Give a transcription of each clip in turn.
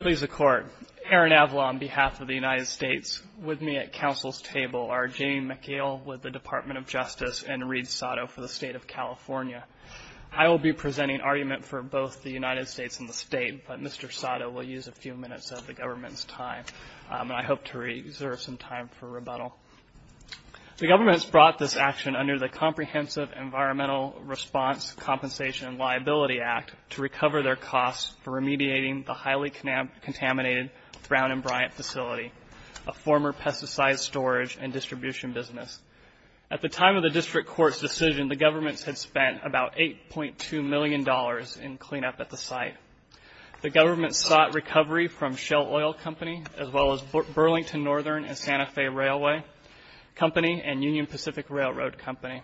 Please accord. Aaron Avila on behalf of the United States, with me at Council's table are Jamie McHale with the Department of Justice and Reid Sato for the State of California. I will be presenting argument for both the United States and the State, but Mr. Sato will use a few minutes of the government's time. I hope to reserve some time for rebuttal. The government has brought this action under the Comprehensive Environmental Response Compensation and Liability Act to recover their costs for remediating the highly contaminated Brown and Bryant facility, a former pesticide storage and distribution business. At the time of the district court's decision, the government had spent about $8.2 million in cleanup at the site. The government sought recovery from Shell Oil Company, as well as Burlington Northern and Santa Fe Railway Company and Union Pacific Railroad Company.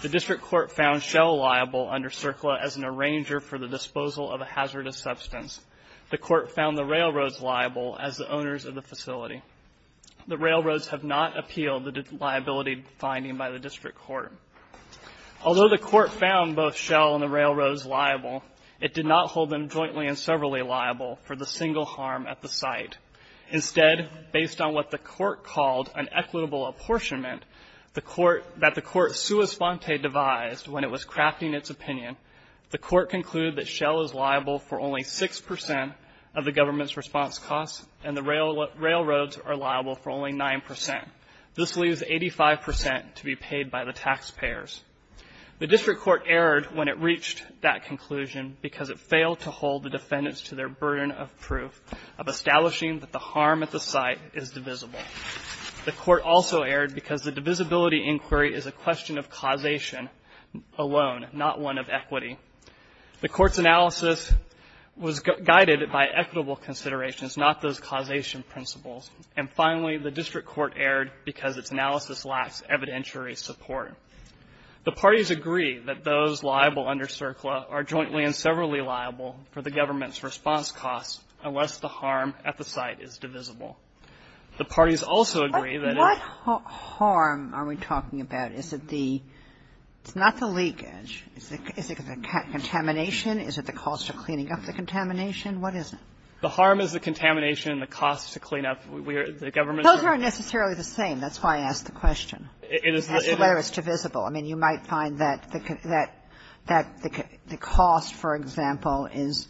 The district court found Shell liable under CERCLA as an arranger for the disposal of a hazardous substance. The court found the railroads liable as the owners of the facility. The railroads have not appealed the liability finding by the district court. Although the court found both Shell and the railroads liable, it did not hold them jointly and severally liable for the single harm at the site. Instead, based on what the court called an equitable apportionment that the court sua sponte devised when it was crafting its opinion, the court concluded that Shell is liable for only 6% of the government's response costs and the railroads are liable for only 9%. This leaves 85% to be paid by the taxpayers. The district court erred when it reached that conclusion because it failed to hold the defendants to their burden of proof of establishing that the harm at the site is divisible. The court also erred because the divisibility inquiry is a question of causation alone, not one of equity. The court's analysis was guided by equitable considerations, not those causation principles. And finally, the district court erred because its analysis lacks evidentiary support. The parties agree that those liable under CERCLA are jointly and severally liable for the government's response costs unless the harm at the site is divisible. The parties also agree that the harm at the site is divisible unless the harm at the site is divisible. Kagan. What harm are we talking about? Is it the – it's not the leakage. Is it the contamination? Is it the cost of cleaning up the contamination? What is it? The harm is the contamination and the cost to clean up. We are – the government's Those aren't necessarily the same. That's why I asked the question. It is the – Whether it's divisible. I mean, you might find that the – that the cost, for example, is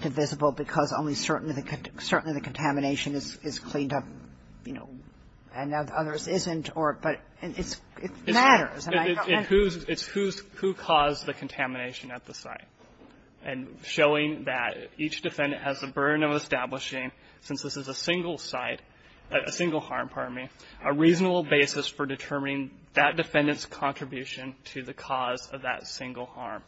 divisible because only certainly the – certainly the contamination is cleaned up, you know, and others isn't or – but it's – it matters. It's who's – it's who caused the contamination at the site. And showing that each defendant has the burden of establishing, since this is a single site – a single harm, pardon me, a reasonable basis for determining that defendant's contribution to the cause of that single harm.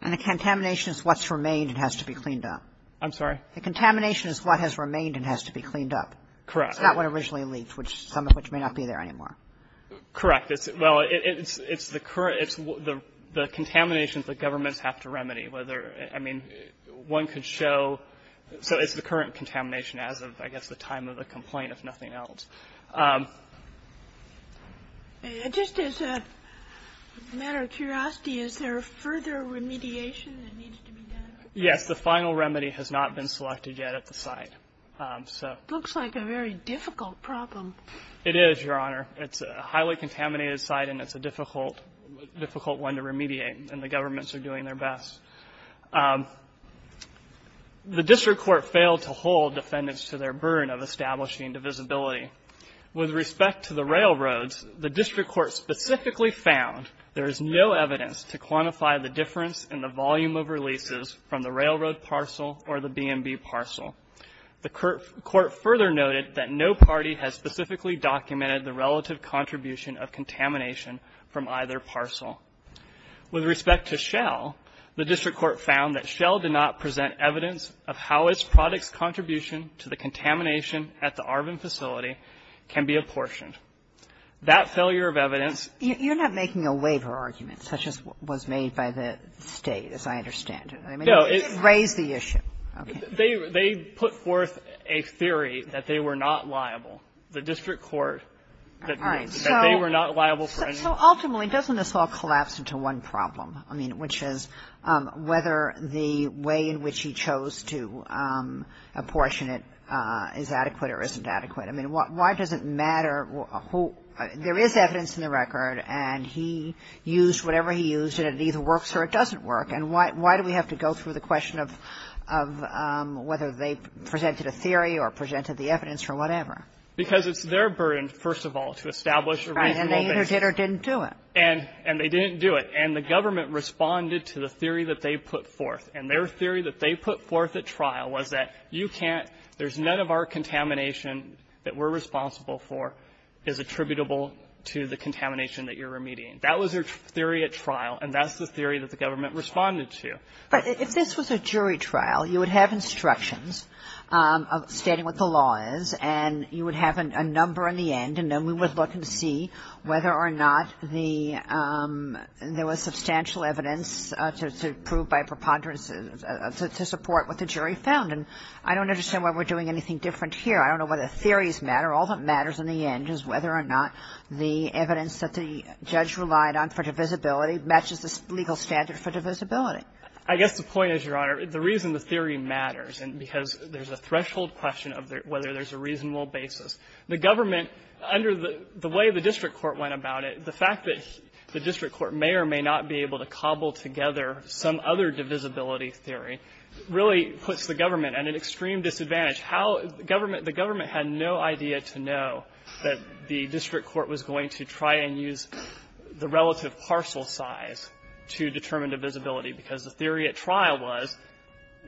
And the contamination is what's remained and has to be cleaned up. I'm sorry? The contamination is what has remained and has to be cleaned up. Correct. It's not what originally leaked, which – some of which may not be there anymore. Correct. It's – well, it's the current – it's the contamination that governments have to remedy, whether – I mean, one could show – so it's the current contamination as of, I guess, the time of the complaint, if nothing else. Just as a matter of curiosity, is there further remediation that needs to be done? Yes. The final remedy has not been selected yet at the site. So – Looks like a very difficult problem. It is, Your Honor. It's a highly contaminated site and it's a difficult – difficult one to remediate. And the governments are doing their best. The district court failed to hold defendants to their burden of establishing divisibility. With respect to the railroads, the district court specifically found there is no evidence to quantify the difference in the volume of releases from the railroad parcel or the B&B parcel. The court further noted that no party has specifically documented the relative contribution of contamination from either parcel. With respect to Shell, the district court found that Shell did not present evidence of how its product's contribution to the contamination at the Arvin facility can be apportioned. That failure of evidence – You're not making a waiver argument, such as was made by the State, as I understand it. No, it's – You didn't raise the issue. They – they put forth a theory that they were not liable. The district court – All right. That they were not liable for any – So ultimately, doesn't this all collapse into one problem? I mean, which is whether the way in which he chose to apportion it is adequate or isn't adequate? I mean, why does it matter – there is evidence in the record, and he used whatever he used, and it either works or it doesn't work. And why do we have to go through the question of whether they presented a theory or presented the evidence or whatever? Because it's their burden, first of all, to establish a reasonable basis. And they either did or didn't do it. And they didn't do it. And the government responded to the theory that they put forth. And their theory that they put forth at trial was that you can't – there's none of our contamination that we're responsible for is attributable to the contamination that you're remediating. That was their theory at trial, and that's the theory that the government responded to. But if this was a jury trial, you would have instructions stating what the law is, and you would have a number in the end, and then we would look and see whether or not the – there was substantial evidence to prove by preponderance to support what the jury found. And I don't understand why we're doing anything different here. I don't know whether theories matter. All that matters in the end is whether or not the evidence that the judge relied on for divisibility matches the legal standard for divisibility. I guess the point is, Your Honor, the reason the theory matters, because there's a threshold question of whether there's a reasonable basis. The government – under the way the district court went about it, the fact that the district court may or may not be able to cobble together some other divisibility theory really puts the government at an extreme disadvantage. How – the government had no idea to know that the district court was going to try and use the relative parcel size to determine divisibility, because the theory at trial was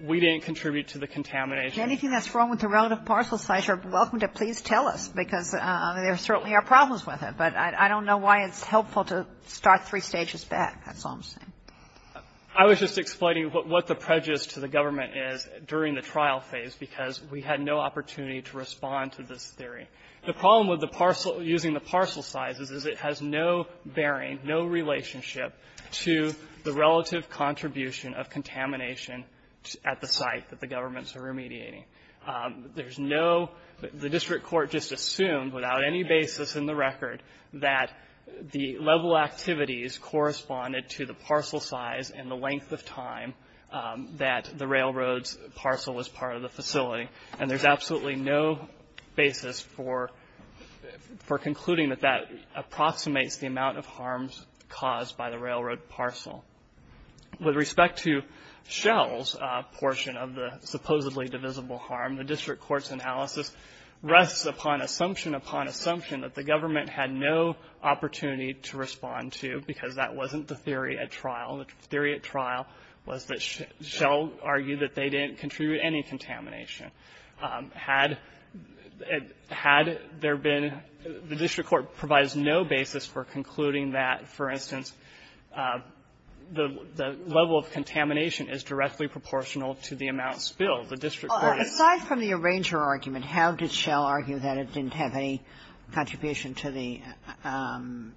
we didn't contribute to the contamination. If there's anything that's wrong with the relative parcel size, you're welcome to please tell us, because there certainly are problems with it. But I don't know why it's helpful to start three stages back. That's all I'm saying. I was just explaining what the prejudice to the government is during the trial phase, because we had no opportunity to respond to this theory. The problem with the parcel – using the parcel sizes is it has no bearing, no relationship to the relative contribution of contamination at the site that the government is mediating. There's no – the district court just assumed, without any basis in the record, that the level activities corresponded to the parcel size and the length of time that the railroad's parcel was part of the facility. And there's absolutely no basis for concluding that that approximates the amount of harms caused by the railroad parcel. With respect to Shell's portion of the supposedly divisible harm, the district court's analysis rests upon assumption upon assumption that the government had no opportunity to respond to, because that wasn't the theory at trial. The theory at trial was that Shell argued that they didn't contribute any contamination. Had there been – the district court provides no basis for concluding that, for instance, the level of contamination is directly proportional to the amount spilled. The district court is – Kagan. Aside from the arranger argument, how did Shell argue that it didn't have any contribution to the –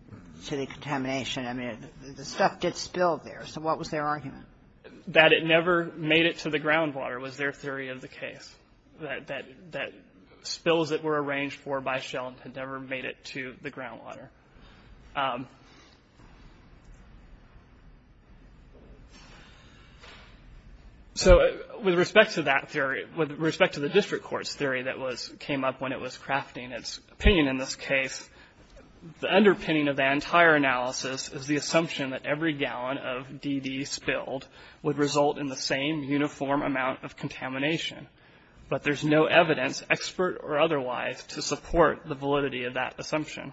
to the contamination? I mean, the stuff did spill there. So what was their argument? That it never made it to the groundwater was their theory of the case. That – that spills that were arranged for by Shell had never made it to the groundwater. So with respect to that theory, with respect to the district court's theory that was – came up when it was crafting its opinion in this case, the underpinning of the entire analysis is the assumption that every gallon of DD spilled would result in the same uniform amount of contamination. But there's no evidence, expert or otherwise, to support the validity of that theory.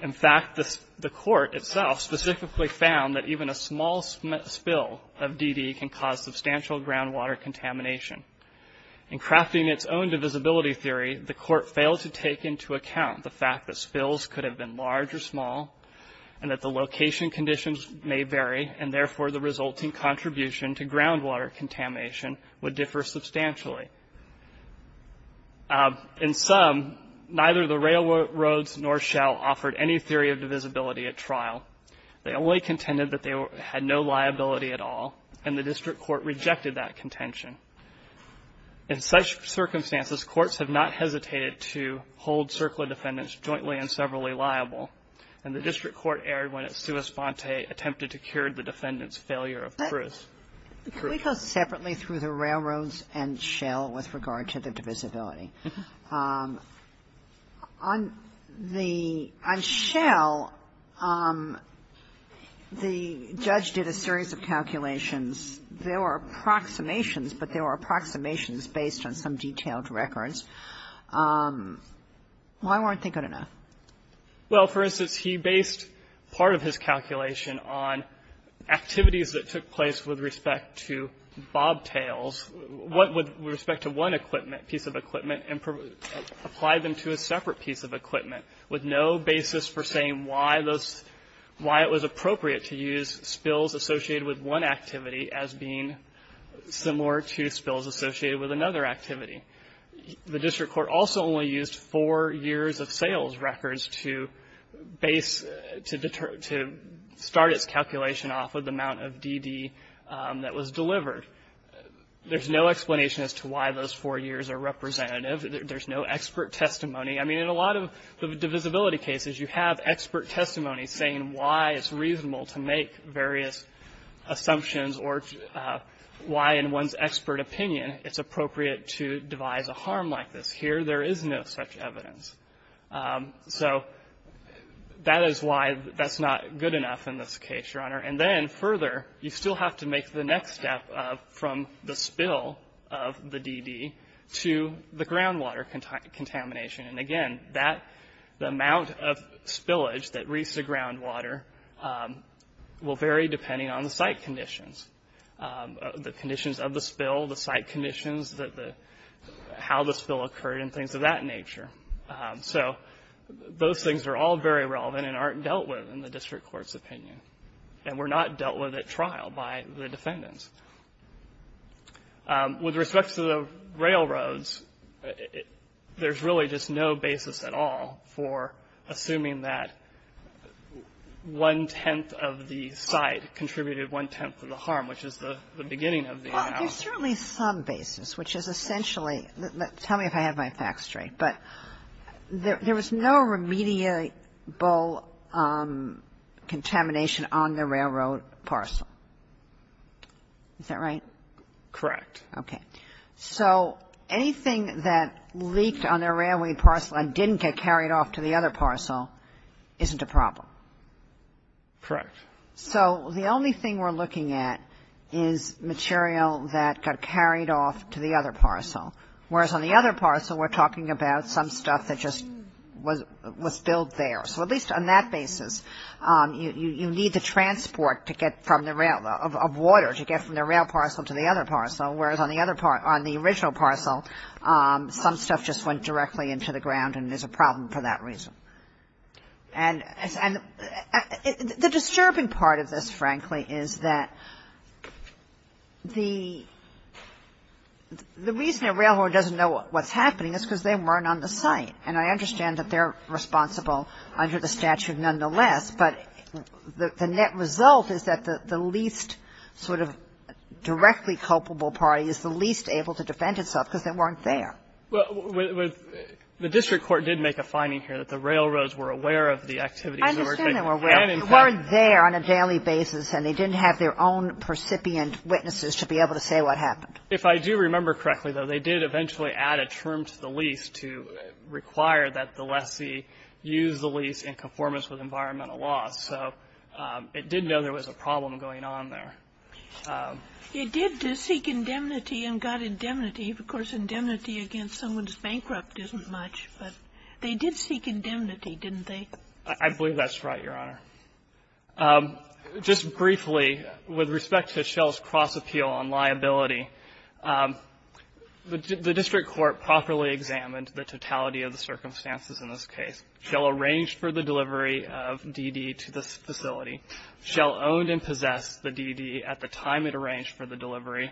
In fact, the court itself specifically found that even a small spill of DD can cause substantial groundwater contamination. In crafting its own divisibility theory, the court failed to take into account the fact that spills could have been large or small, and that the location conditions may vary, and therefore the resulting contribution to groundwater contamination would differ substantially. In sum, neither the railroads nor Shell offered any theory of divisibility at trial. They only contended that they had no liability at all, and the district court rejected that contention. In such circumstances, courts have not hesitated to hold CERCLA defendants jointly and severally liable, and the district court erred when its sua sponte attempted to cure the defendants' failure of proof. Sotomayor, can we go separately through the railroads and Shell with regard to the divisibility? On the Shell, the judge did a series of calculations. There were approximations, but they were approximations based on some detailed records. Why weren't they good enough? Well, for instance, he based part of his calculation on activities that took place with respect to bobtails, with respect to one piece of equipment, and applied them to a separate piece of equipment, with no basis for saying why it was appropriate to use spills associated with one activity as being similar to spills associated with another activity. The district court also only used four years of sales records to start its calculation off of the amount of DD that was delivered. There's no explanation as to why those four years are representative. There's no expert testimony. I mean, in a lot of the divisibility cases, you have expert testimony saying why it's reasonable to make various assumptions or why, in one's expert opinion, it's appropriate to devise a harm like this. Here, there is no such evidence. So that is why that's not good enough in this case, Your Honor. And then further, you still have to make the next step from the spill of the DD to the groundwater contamination. And again, the amount of spillage that reached the groundwater will vary depending on the site conditions, the conditions of the spill, the site conditions, how the spill occurred, and things of that nature. So those things are all very relevant and aren't dealt with in the district court's opinion, and were not dealt with at trial by the defendants. With respect to the railroads, there's really just no basis at all for assuming that one-tenth of the site contributed one-tenth of the harm, which is the beginning of the amount. There's certainly some basis, which is essentially the – tell me if I have my facts straight. But there was no remediable contamination on the railroad parcel. Is that right? Correct. Okay. So anything that leaked on the railway parcel and didn't get carried off to the other parcel isn't a problem? Correct. So the only thing we're looking at is material that got carried off to the other parcel, whereas on the other parcel, we're talking about some stuff that just was spilled there. So at least on that basis, you need the transport to get from the rail – of water to get from the rail parcel to the other parcel, whereas on the other – on the original parcel, some stuff just went directly into the ground, and there's a problem for that reason. And the disturbing part of this, frankly, is that the reason a railroad doesn't know what's happening is because they weren't on the site. And I understand that they're responsible under the statute nonetheless, but the net result is that the least sort of directly culpable party is the least able to defend itself because they weren't there. Well, the district court did make a finding here that the railroads were aware of the activities. I understand they were aware, but they weren't there on a daily basis, and they didn't have their own percipient witnesses to be able to say what happened. If I do remember correctly, though, they did eventually add a term to the lease to require that the lessee use the lease in conformance with environmental laws. So it did know there was a problem going on there. It did seek indemnity and got indemnity. Of course, indemnity against someone who's bankrupt isn't much, but they did seek indemnity, didn't they? I believe that's right, Your Honor. Just briefly, with respect to Schell's cross-appeal on liability, the district court properly examined the totality of the circumstances in this case. Schell arranged for the delivery of DD to this facility. Schell owned and possessed the DD at the time it arranged for the delivery.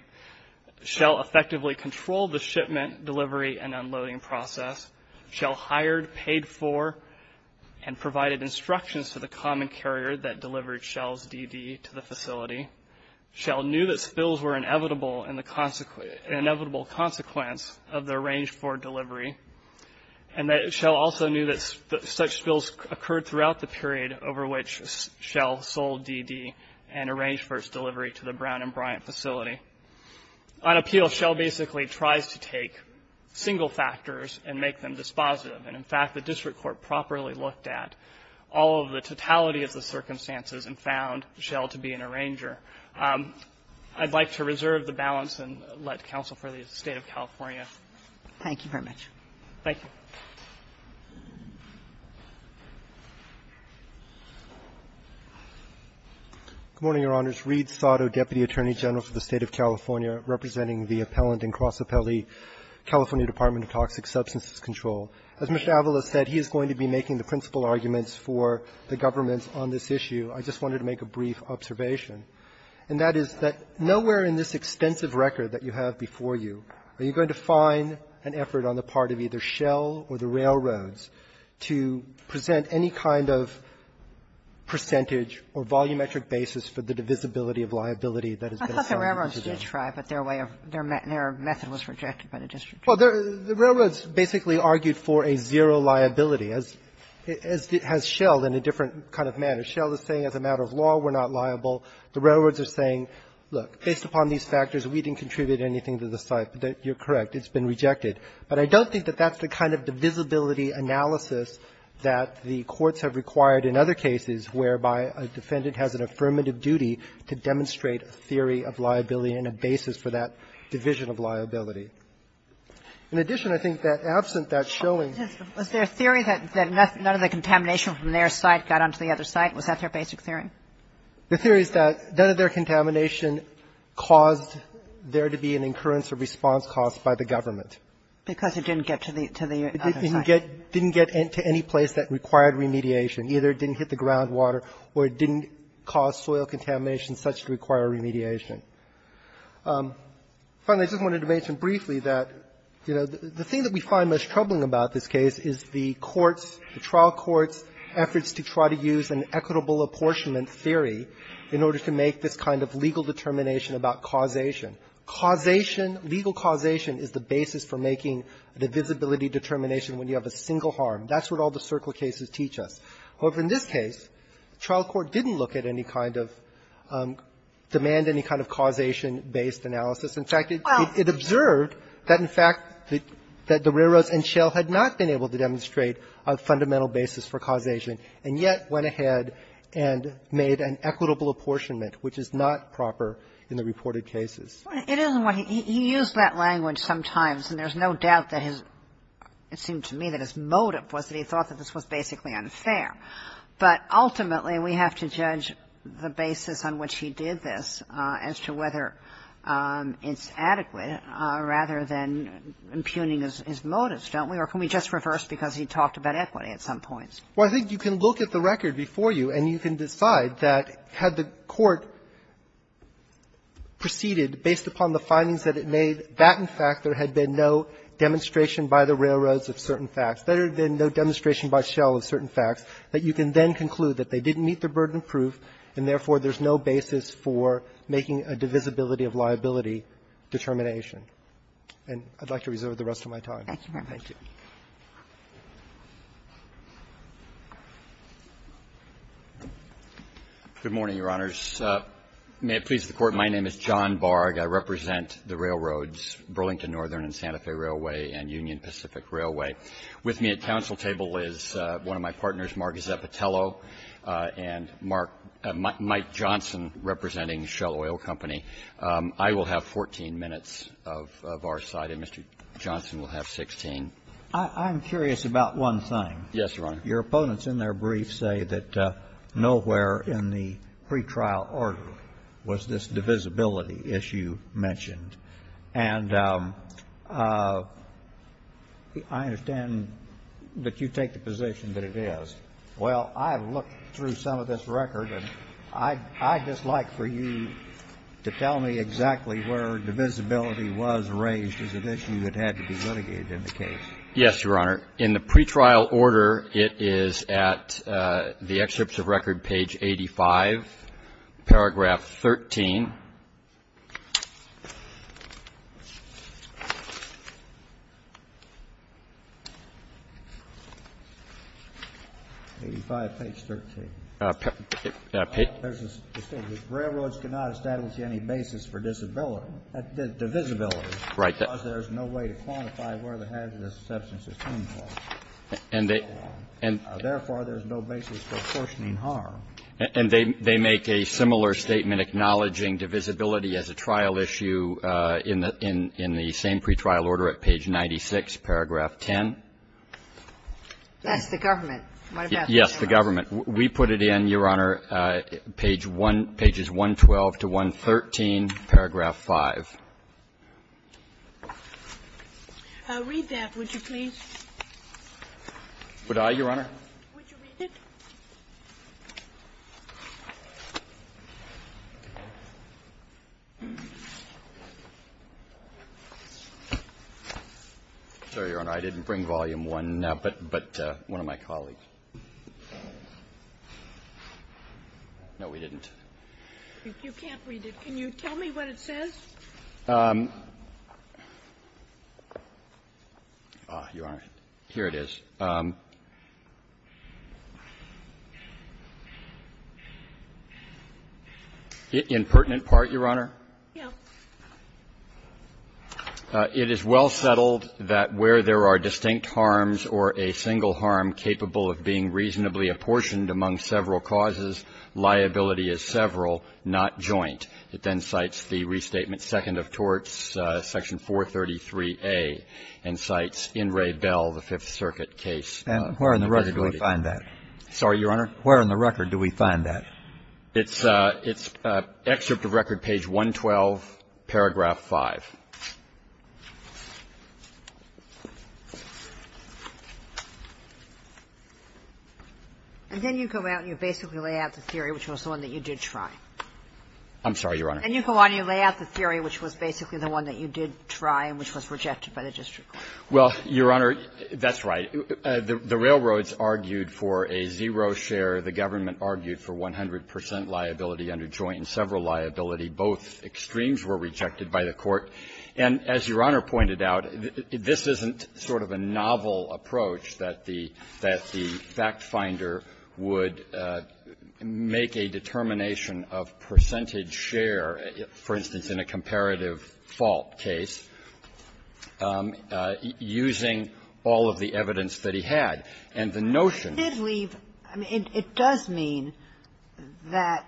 Schell effectively controlled the shipment, delivery, and unloading process. Schell hired, paid for, and provided instructions to the common carrier that delivered Schell's DD to the facility. Schell knew that spills were an inevitable consequence of the arranged for delivery, and that Schell also knew that such spills occurred throughout the period over which Schell sold DD and arranged for its delivery to the Brown and Bryant facility. On appeal, Schell basically tries to take single factors and make them dispositive. And, in fact, the district court properly looked at all of the totality of the circumstances and found Schell to be an arranger. I'd like to reserve the balance and let counsel for the State of California. Thank you very much. Thank you. Good morning, Your Honors. Reed Sato, Deputy Attorney General for the State of California, representing the Appellant and Cross Appellee, California Department of Toxic Substances Control. As Mr. Avalos said, he is going to be making the principal arguments for the government on this issue. I just wanted to make a brief observation, and that is that nowhere in this extensive record that you have before you are you going to find an effort on the part of either Schell or the railroads to present any kind of percentage or volumetric basis for the divisibility of liability that has been assigned to them. I thought the railroads did try, but their way of — their method was rejected by the district court. Well, the railroads basically argued for a zero liability, as Schell did in a different kind of manner. Schell is saying as a matter of law we're not liable. The railroads are saying, look, based upon these factors, we didn't contribute anything to the site. You're correct. It's been rejected. But I don't think that that's the kind of divisibility analysis that the courts have required in other cases whereby a defendant has an affirmative duty to demonstrate a theory of liability and a basis for that division of liability. In addition, I think that absent that showing — Kagan. Was there a theory that none of the contamination from their site got onto the other site? Was that their basic theory? The theory is that none of their contamination caused there to be an incurrence or response caused by the government. Because it didn't get to the — to the other site. It didn't get — didn't get to any place that required remediation. Either it didn't hit the groundwater or it didn't cause soil contamination such to require remediation. Finally, I just wanted to mention briefly that, you know, the thing that we find most troubling about this case is the courts, the trial courts' efforts to try to use an equitable apportionment theory in order to make this kind of legal determination about causation. Causation, legal causation is the basis for making the divisibility determination when you have a single harm. That's what all the circle cases teach us. However, in this case, the trial court didn't look at any kind of — demand any kind of causation-based analysis. In fact, it observed that, in fact, that the railroads and shale had not been able to demonstrate a fundamental basis for causation, and yet went ahead and made an equitable apportionment, which is not proper in the reported cases. It is what he — he used that language sometimes, and there's no doubt that his — it seemed to me that his motive was that he thought that this was basically unfair. But ultimately, we have to judge the basis on which he did this as to whether it's adequate, rather than impugning his motives, don't we? Or can we just reverse, because he talked about equity at some points? Katyala, I think you can look at the record before you, and you can decide that, had the court proceeded based upon the findings that it made, that, in fact, there had been no demonstration by the railroads of certain facts, there had been no demonstration by shale of certain facts, that you can then conclude that they didn't meet the burden of proof, and therefore, there's no basis for making a divisibility-of-liability determination. And I'd like to reserve the rest of my time. Thank you, Your Honor. Roberts. Good morning, Your Honors. May it please the Court, my name is John Barg. I represent the railroads, Burlington Northern and Santa Fe Railway and Union Pacific Railway. With me at council table is one of my partners, Mark Gazzett-Patello and Mark — Mike Johnson, representing Shell Oil Company. I will have 14 minutes of our side, and Mr. Johnson will have 16. I'm curious about one thing. Yes, Your Honor. Your opponents in their briefs say that nowhere in the pretrial order was this divisibility issue mentioned. And I understand that you take the position that it is. Well, I've looked through some of this record, and I'd just like for you to tell me exactly where divisibility was raised as an issue that had to be litigated in the case. Yes, Your Honor. In the pretrial order, it is at the excerpts of record, page 85, paragraph 13. Page 85, page 13. There's a statement, railroads cannot establish any basis for divisibility. Right. Because there's no way to quantify where the hazardous substance is coming from. And they — Therefore, there's no basis for apportioning harm. And they make a similar statement acknowledging divisibility as a trial issue in the same pretrial order at page 96, paragraph 10. That's the government. Yes, the government. We put it in, Your Honor, page 1 — pages 112 to 113, paragraph 5. Read that, would you please? Would I, Your Honor? Would you read it? Sorry, Your Honor, I didn't bring volume 1, but one of my colleagues. No, we didn't. If you can't read it, can you tell me what it says? You aren't. Here it is. In pertinent part, Your Honor. Yes. It is well settled that where there are distinct harms or a single harm capable of being reasonably apportioned among several causes, liability is several, not joint. It then cites the Restatement, Second of Torts, Section 433A, and cites In re Bell, the Fifth Circuit case. And where in the record do we find that? Sorry, Your Honor? Where in the record do we find that? It's excerpt of record, page 112, paragraph 5. And then you go out and you basically lay out the theory, which was the one that you did try. I'm sorry, Your Honor. And you go out and you lay out the theory which was basically the one that you did try and which was rejected by the district court. Well, Your Honor, that's right. The railroads argued for a zero share. The government argued for 100 percent liability under joint and several liability. Both extremes were rejected by the court. And as Your Honor pointed out, this isn't sort of a novel approach that the factfinder would make a determination of percentage share, for instance, in a comparative fault case. Using all of the evidence that he had. And the notion of the law. I did leave – it does mean that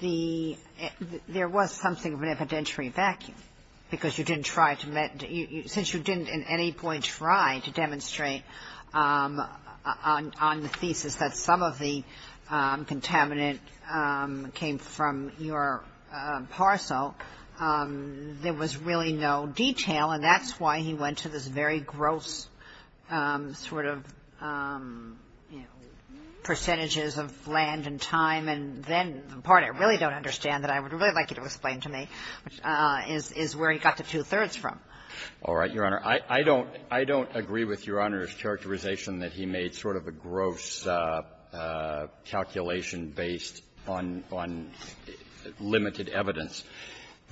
the – there was something of an evidentiary vacuum, because you didn't try to – since you didn't at any point try to demonstrate on the thesis that some of the contaminant came from your parcel, there was really no detail. And that's why he went to this very gross sort of, you know, percentages of land and time. And then the part I really don't understand that I would really like you to explain to me, which is where he got the two-thirds from. All right, Your Honor. I don't – I don't agree with Your Honor's characterization that he made sort of a gross calculation based on – on limited evidence.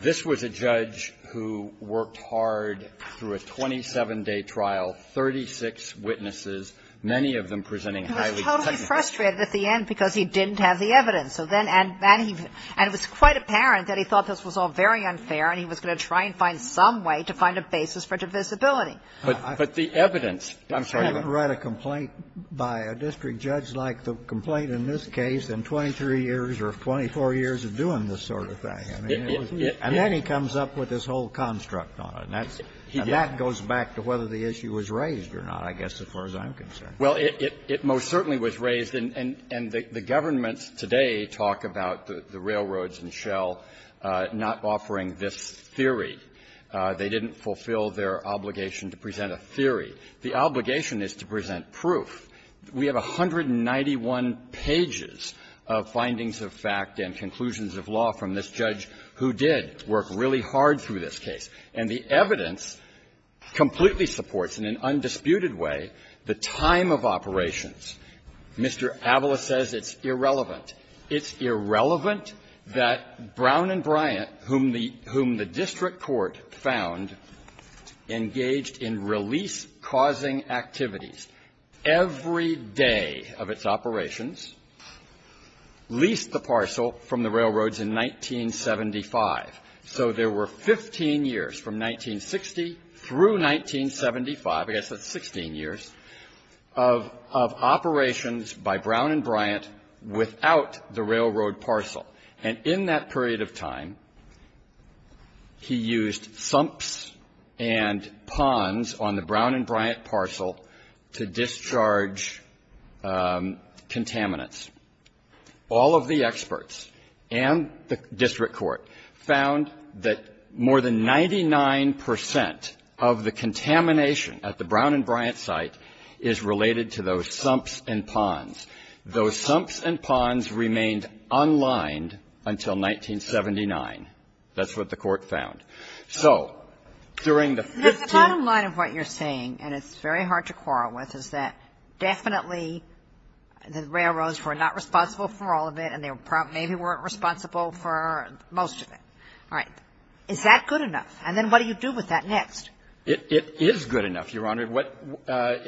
This was a judge who worked hard through a 27-day trial, 36 witnesses, many of them presenting highly technical – He was totally frustrated at the end because he didn't have the evidence. So then – and it was quite apparent that he thought this was all very unfair, and he was going to try and find some way to find a basis for divisibility. But the evidence – I'm sorry, Your Honor. I haven't read a complaint by a district judge like the complaint in this case in 23 years or 24 years of doing this sort of thing. I mean, it was – and then he comes up with this whole construct on it. And that's – and that goes back to whether the issue was raised or not, I guess, as far as I'm concerned. Well, it most certainly was raised, and the government today talk about the railroads and Shell not offering this theory. They didn't fulfill their obligation to present a theory. The obligation is to present proof. We have 191 pages of findings of fact and conclusions of law from this judge who did work really hard through this case. And the evidence completely supports in an undisputed way the time of operations. Mr. Avala says it's irrelevant. It's irrelevant that Brown and Bryant, whom the – whom the district court found, engaged in release-causing activities every day of its operations, leased the parcel from the railroads in 1975. So there were 15 years from 1960 through 1975 – I guess that's 16 years – of operations by Brown and Bryant without the railroad parcel. And in that period of time, he used sumps and ponds on the Brown and Bryant parcel to discharge contaminants. All of the experts and the district court found that more than 99 percent of the contamination at the Brown and Bryant site is related to those sumps and ponds. Those sumps and ponds remained unlined until 1979. That's what the court found. So during the 15 – The bottom line of what you're saying, and it's very hard to quarrel with, is that definitely the railroads were not responsible for all of it, and they maybe weren't responsible for most of it. All right. Is that good enough? And then what do you do with that next? It is good enough, Your Honor. I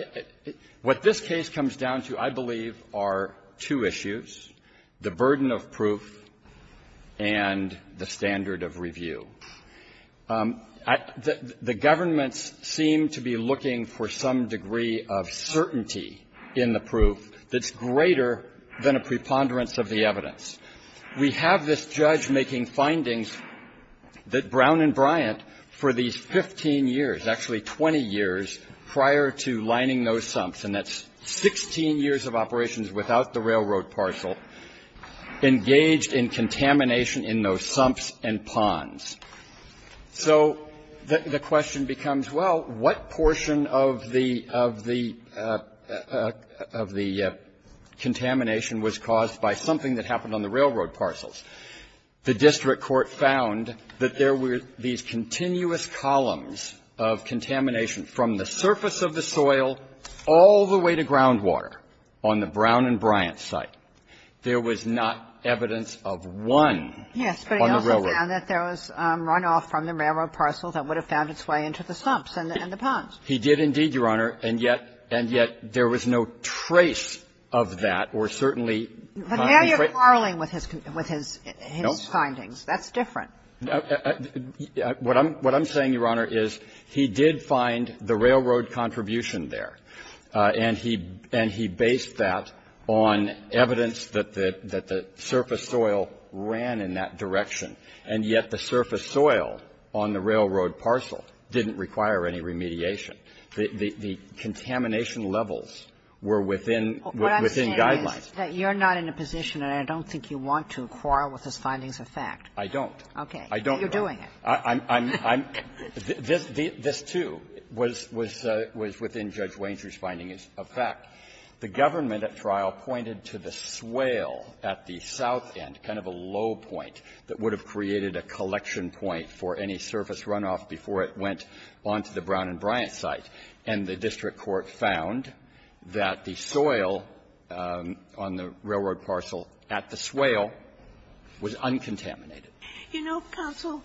mean, what this case comes down to, I believe, are two issues, the burden of proof and the standard of review. The governments seem to be looking for some degree of certainty in the proof that's greater than a preponderance of the evidence. We have this judge making findings that Brown and Bryant, for these 15 years, actually 20 years prior to lining those sumps, and that's 16 years of operations without the railroad parcel, engaged in contamination in those sumps and ponds. So the question becomes, well, what portion of the – of the contamination was caused by something that happened on the railroad parcels? The district court found that there were these continuous columns of contamination from the surface of the soil all the way to groundwater on the Brown and Bryant site. There was not evidence of one on the railroad. Yes, but he also found that there was runoff from the railroad parcel that would have found its way into the sumps and the ponds. He did indeed, Your Honor, and yet – and yet there was no trace of that, or certainly not a trace. But now you're quarreling with his – with his findings. That's different. What I'm – what I'm saying, Your Honor, is he did find the railroad contribution there, and he – and he based that on evidence that the – that the surface soil ran in that direction, and yet the surface soil on the railroad parcel didn't require any remediation. The contamination levels were within – within guidelines. But you're not in a position, and I don't think you want to quarrel with his findings of fact. I don't. Okay. I don't, Your Honor. You're doing it. I'm – I'm – this – this, too, was – was within Judge Wainsworth's findings of fact. The government at trial pointed to the swale at the south end, kind of a low point that would have created a collection point for any surface runoff before it went onto the Brown and Bryant site. And the district court found that the soil on the railroad parcel at the swale was uncontaminated. You know, counsel,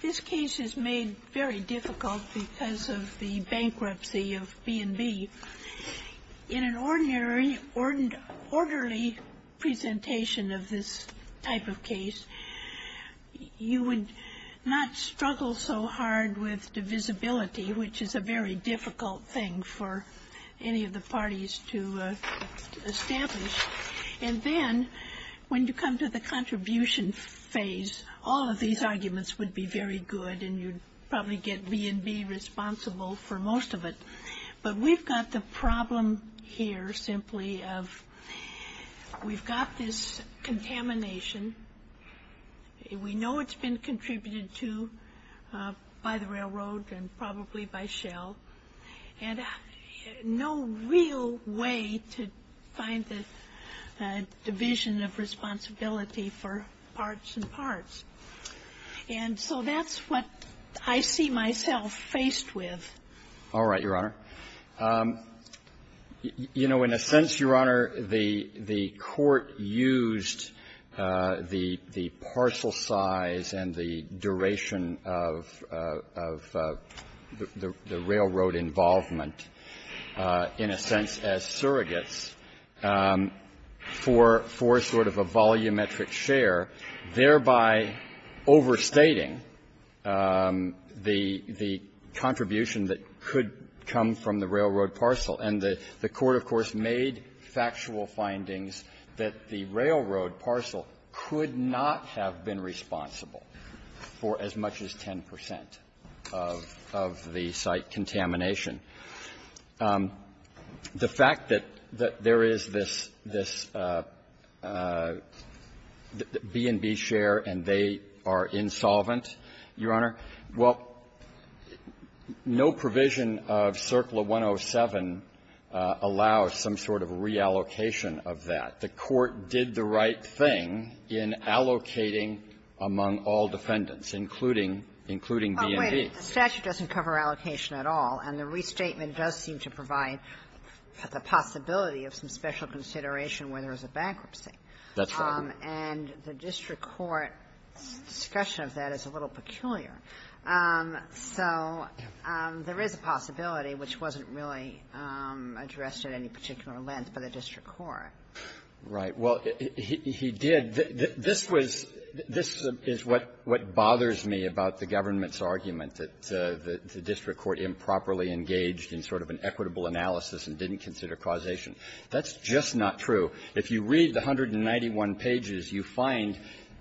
this case is made very difficult because of the bankruptcy of B&B. In an ordinary – orderly presentation of this type of case, you would not struggle so hard with divisibility, which is a very difficult thing for any of the parties to establish. And then, when you come to the contribution phase, all of these arguments would be very good, and you'd probably get B&B responsible for most of it. But we've got the problem here simply of we've got this contamination. We know it's been contributed to by the railroad and probably by shale. And no real way to find the division of responsibility for parts and parts. And so that's what I see myself faced with. All right, Your Honor. You know, in a sense, Your Honor, the court used the parcel size and the duration of the railroad involvement, in a sense, as surrogates for sort of a volumetric share, thereby overstating the contribution that could come from the railroad parcel. And the court, of course, made factual findings that the railroad parcel could not have been responsible for as much as 10 percent of the site contamination. The fact that there is this B&B share and they are insolvent, Your Honor, well, no provision of CERCLA 107 allows some sort of reallocation of that. The court did the right thing in allocating among all defendants, including B&B. Oh, wait. The statute doesn't cover allocation at all, and the restatement does seem to provide the possibility of some special consideration where there is a bankruptcy. That's right. And the district court's discussion of that is a little peculiar. So there is a possibility, which wasn't really addressed at any particular length by the district court. Right. Well, he did. This was — this is what bothers me about the government's argument that the district court improperly engaged in sort of an equitable analysis and didn't consider causation. That's just not true. If you read the 191 pages, you find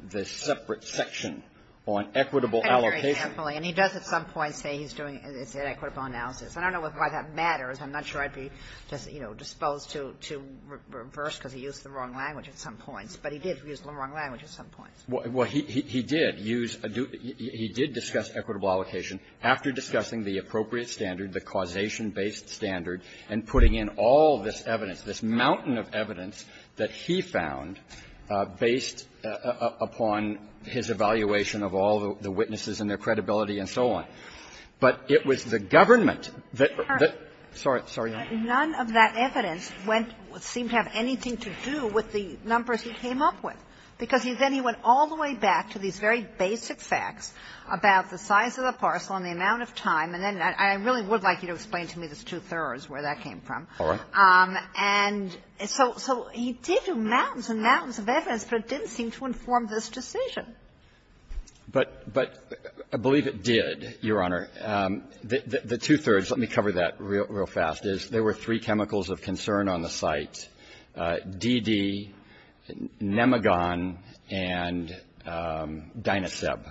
the separate section on equitable allocation And he does at some point say he's doing an equitable analysis. I don't know why that matters. I'm not sure I'd be, you know, disposed to reverse because he used the wrong language at some points. But he did use the wrong language at some points. Well, he did use — he did discuss equitable allocation after discussing the appropriate standard, the causation-based standard, and putting in all this evidence, this mountain of evidence that he found based upon his evaluation of all the witnesses and their credibility and so on. But it was the government that — sorry. None of that evidence went — seemed to have anything to do with the numbers he came up with, because then he went all the way back to these very basic facts about the size of the parcel and the amount of time, and then I really would like you to explain to me this two-thirds, where that came from. All right. And so he did do mountains and mountains of evidence, but it didn't seem to inform this decision. But I believe it did, Your Honor. The two-thirds — let me cover that real fast — is there were three chemicals of concern on the site, DD, Nemagon, and Dynaseb.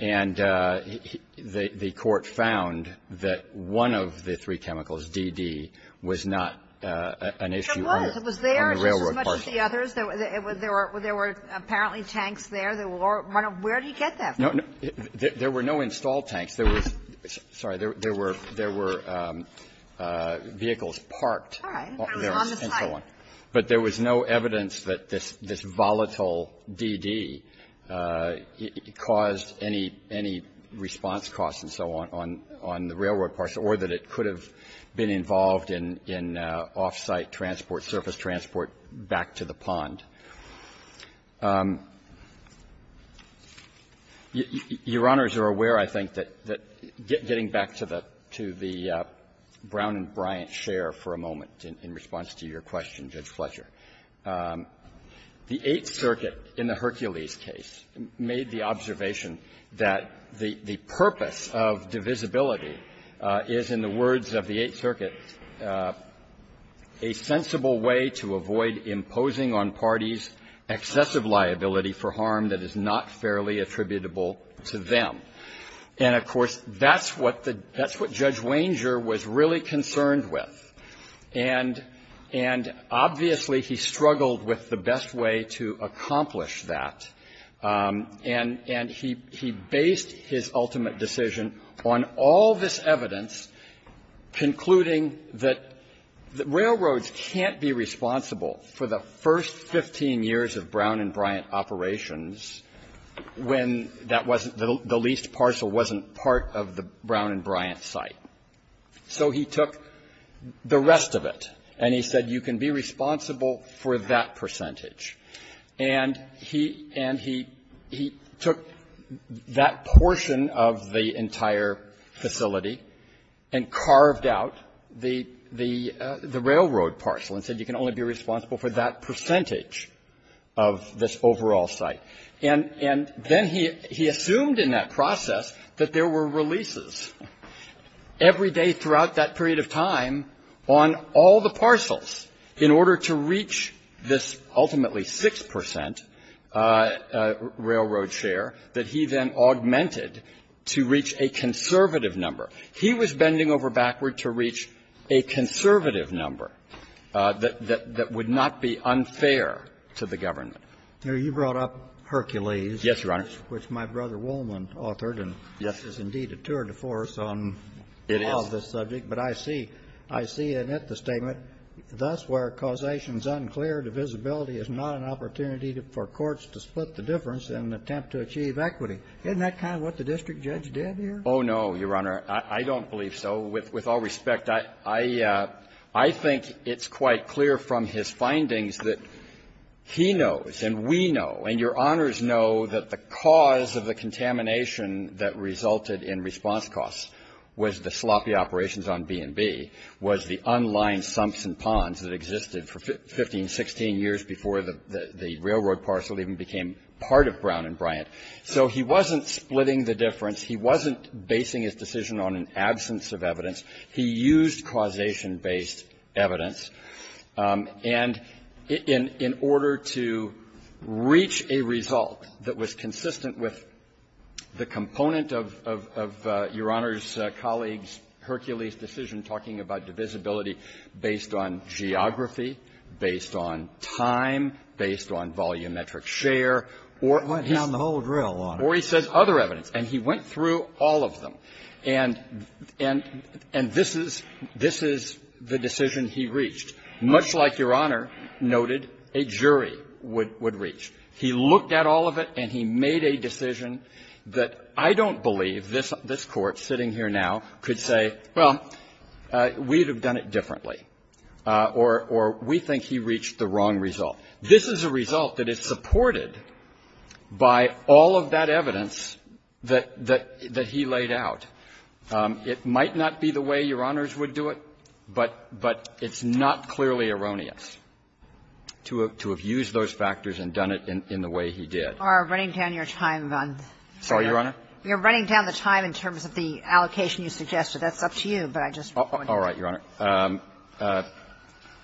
And the Court found that one of the three chemicals, DD, was not an issue on the railroad parcel. It was. It was there just as much as the others. There were — there were apparently tanks there that were — where did he get them? No, no. There were no installed tanks. There was — sorry. There were — there were vehicles parked. All right. But it was on the site. And so on. But there was no evidence that this volatile DD caused any response costs and so on on the railroad parcel, or that it could have been involved in off-site transport, surface transport back to the pond. Your Honors are aware, I think, that — getting back to the Brown and Bryant share for a moment in response to your question, Judge Fletcher, the Eighth Circuit in the Hercules case made the observation that the purpose of divisibility is, in the words of the Eighth Circuit, a sensible way to avoid imposing on parties excessive liability for harm that is not fairly attributable to them. And, of course, that's what the — that's what Judge Wanger was really concerned with. And — and, obviously, he struggled with the best way to accomplish that. And — and he — he based his ultimate decision on all this evidence concluding that railroads can't be responsible for the first 15 years of Brown and Bryant operations when that wasn't — the leased parcel wasn't part of the Brown and Bryant site. So he took the rest of it, and he said, you can be responsible for that percentage. And he — and he — he took that portion of the entire facility and carved out the — the railroad parcel and said, you can only be responsible for that percentage of this overall site. And — and then he — he assumed in that process that there were releases every day throughout that period of time on all the parcels in order to reach this ultimately 6 percent railroad share that he then augmented to reach a conservative number. He was bending over backward to reach a conservative number that — that would not be unfair to the government. Now, you brought up Hercules. Yes, Your Honor. Which my brother Woolman authored. And this is indeed a tour de force on all of this subject. But I see — I see in it the statement, thus where causation is unclear, divisibility is not an opportunity for courts to split the difference in an attempt to achieve equity. Isn't that kind of what the district judge did here? Oh, no, Your Honor. I don't believe so. With all respect, I — I think it's quite clear from his findings that he knows and we know and Your Honors know that the cause of the contamination that resulted in response costs was the sloppy operations on B&B, was the unlined sumps and ponds that existed for 15, 16 years before the railroad parcel even became part of Brown and Bryant. So he wasn't splitting the difference. He wasn't basing his decision on an absence of evidence. He used causation-based evidence. And in — in order to reach a result that was consistent with the component of — of Your Honor's colleagues' Hercules decision talking about divisibility based on geography, based on time, based on volumetric share, or — It went down the whole drill, Your Honor. Or he says other evidence. And he went through all of them. And — and — and this is — this is the decision he reached. Much like Your Honor noted a jury would — would reach. He looked at all of it, and he made a decision that I don't believe this — this Court, sitting here now, could say, well, we'd have done it differently, or — or we think he reached the wrong result. This is a result that is supported by all of that evidence that — that — that he laid out. It might not be the way Your Honors would do it, but — but it's not clearly erroneous to have — to have used those factors and done it in — in the way he did. You are running down your time on the — Sorry, Your Honor? You're running down the time in terms of the allocation you suggested. That's up to you, but I just wanted to — All right, Your Honor.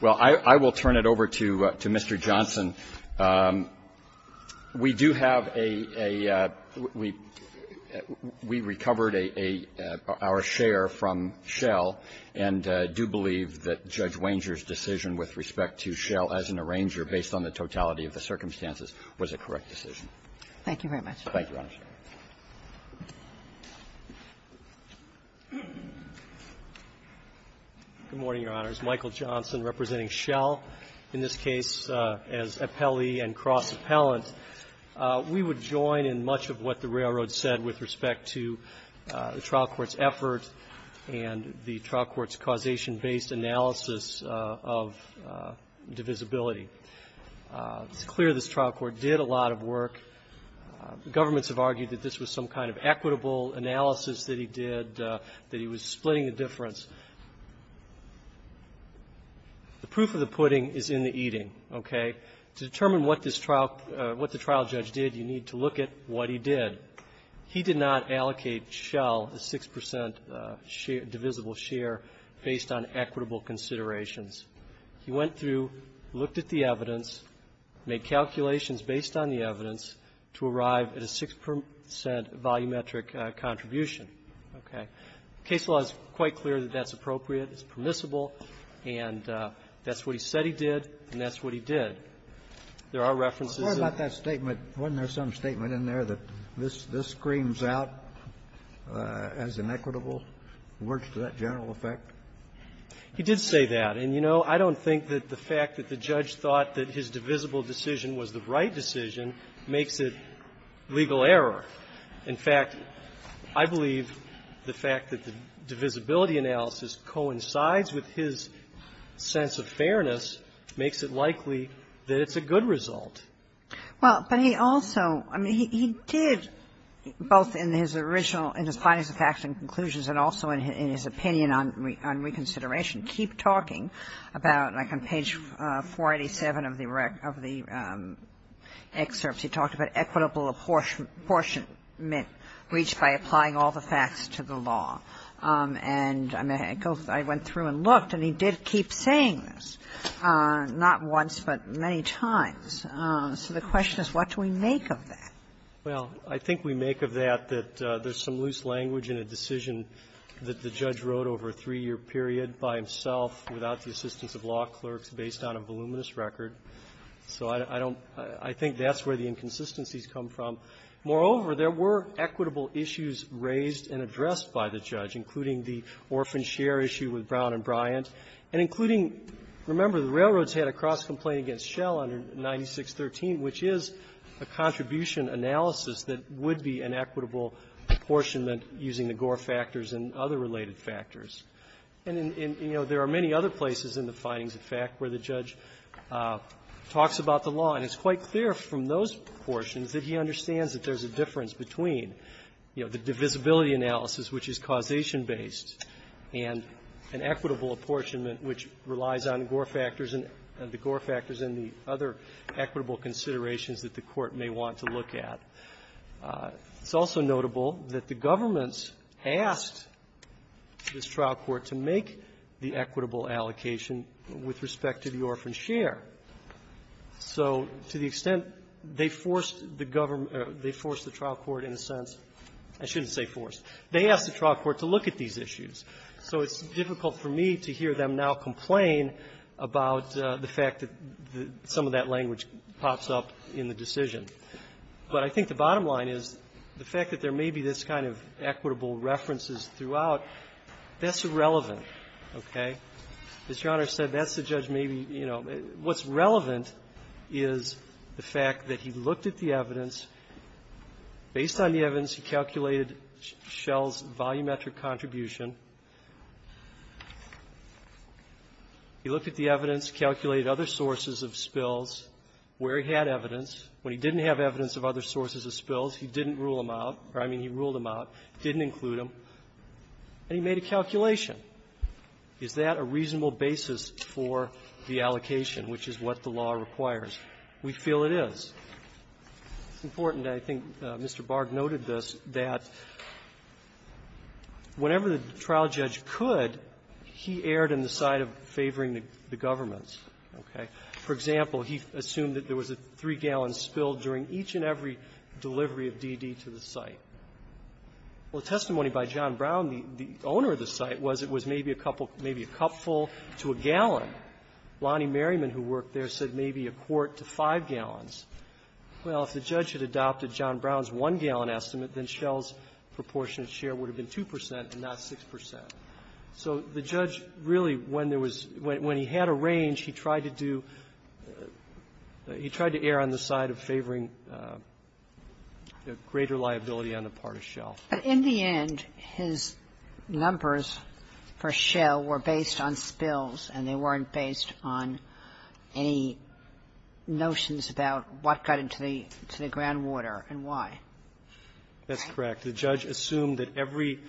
Well, I — I will turn it over to — to Mr. Johnson. We do have a — a — we — we recovered a — a — our share from Schell, and I do believe that Judge Wanger's decision with respect to Schell as an arranger, based on the totality of the circumstances, was a correct decision. Thank you, Your Honor. Good morning, Your Honors. Michael Johnson, representing Schell, in this case as appellee and cross-appellant. We would join in much of what the Railroad said with respect to the trial court's effort and the trial court's causation-based analysis of divisibility. It's clear this trial court did a lot of work. Governments have argued that this was some kind of equitable analysis that he did, that he was splitting the difference. The proof of the pudding is in the eating, okay? To determine what this trial — what the trial judge did, you need to look at what he did. He did not allocate Schell a 6 percent share — divisible share based on equitable considerations. He went through, looked at the evidence, made calculations based on the evidence, to arrive at a 6 percent volumetric contribution, okay? Case law is quite clear that that's appropriate. It's permissible. And that's what he said he did, and that's what he did. There are references that — I'm sorry about that statement. Wasn't there some statement in there that this — this screams out as inequitable, works to that general effect? He did say that. And, you know, I don't think that the fact that the judge thought that his divisible decision was the right decision makes it legal error. In fact, I believe the fact that the divisibility analysis coincides with his sense of fairness makes it likely that it's a good result. Well, but he also — I mean, he did, both in his original — in his findings of facts and conclusions and also in his opinion on reconsideration, he did keep talking about, like on page 487 of the — of the excerpts, he talked about equitable apportionment reached by applying all the facts to the law. And I went through and looked, and he did keep saying this, not once but many times. So the question is, what do we make of that? Well, I think we make of that that there's some loose language in a decision that the judge wrote over a three-year period by himself without the assistance of law clerks based on a voluminous record. So I don't — I think that's where the inconsistencies come from. Moreover, there were equitable issues raised and addressed by the judge, including the orphan share issue with Brown and Bryant, and including — remember, the railroads had a cross-complaint against Schell under 9613, which is a contribution analysis that would be an equitable apportionment using the Gore factors and other related factors. And, you know, there are many other places in the findings of fact where the judge talks about the law, and it's quite clear from those proportions that he understands that there's a difference between, you know, the divisibility analysis, which is causation-based, and an equitable apportionment which relies on Gore factors and the Gore factors and the other equitable considerations that the Court may want to look at. It's also notable that the governments asked this trial court to make the equitable allocation with respect to the orphan share. So to the extent they forced the government — they forced the trial court in a sense — I shouldn't say forced. They asked the trial court to look at these issues. So it's difficult for me to hear them now complain about the fact that some of that language pops up in the decision. But I think the bottom line is the fact that there may be this kind of equitable references throughout, that's irrelevant, okay? As Your Honor said, that's the judge maybe, you know — what's relevant is the fact that he looked at the evidence. Based on the evidence, he calculated Schell's volumetric contribution. He looked at the evidence, calculated other sources of spills, where he had evidence. When he didn't have evidence of other sources of spills, he didn't rule them out, or I mean he ruled them out, didn't include them, and he made a calculation. Is that a reasonable basis for the allocation, which is what the law requires? We feel it is. It's important, and I think Mr. Barg noted this, that whenever the trial judge could, he erred in the side of favoring the governments, okay? For example, he assumed that there was a three-gallon spill during each and every delivery of DD to the site. Well, the testimony by John Brown, the owner of the site, was it was maybe a couple — maybe a cupful to a gallon. Lonnie Merriman, who worked there, said maybe a quart to five gallons. Well, if the judge had adopted John Brown's one-gallon estimate, then Schell's proportionate share would have been 2 percent and not 6 percent. So the judge really, when there was — when he had a range, he tried to do — he tried to err on the side of favoring the greater liability on the part of Schell. But in the end, his numbers for Schell were based on spills, and they weren't based on any notions about what got into the — to the groundwater and why. That's correct. The judge assumed that every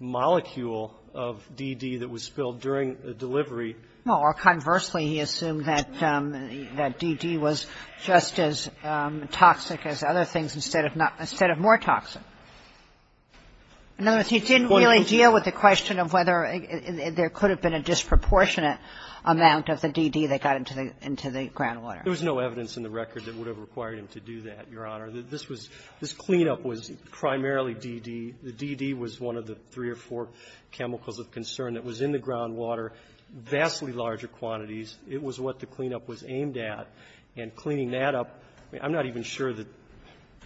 molecule of DD that was spilled during the delivery No. Or conversely, he assumed that DD was just as toxic as other things instead of not — instead of more toxic. No, he didn't really deal with the question of whether there could have been a disproportionate amount of the DD that got into the — into the groundwater. There was no evidence in the record that would have required him to do that, Your Honor. This was — this cleanup was primarily DD. The DD was one of the three or four chemicals of concern that was in the groundwater, vastly larger quantities. It was what the cleanup was aimed at. And cleaning that up, I'm not even sure that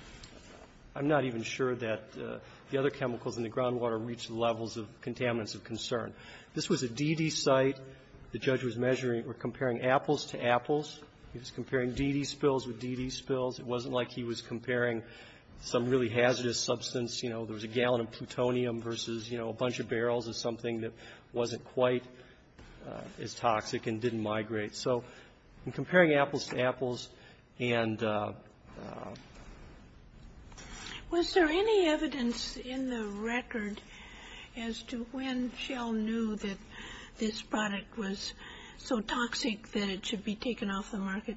— I'm not even sure that the other chemicals in the groundwater reached the levels of contaminants of concern. This was a DD site. The judge was measuring or comparing apples to apples. He was comparing DD spills with DD spills. It wasn't like he was comparing some really hazardous substance. You know, there was a gallon of plutonium versus, you know, a bunch of barrels of something that wasn't quite as toxic and didn't migrate. So in comparing apples to apples and — Was there any evidence in the record as to when Shell knew that this product was so toxic that it should be taken off the market?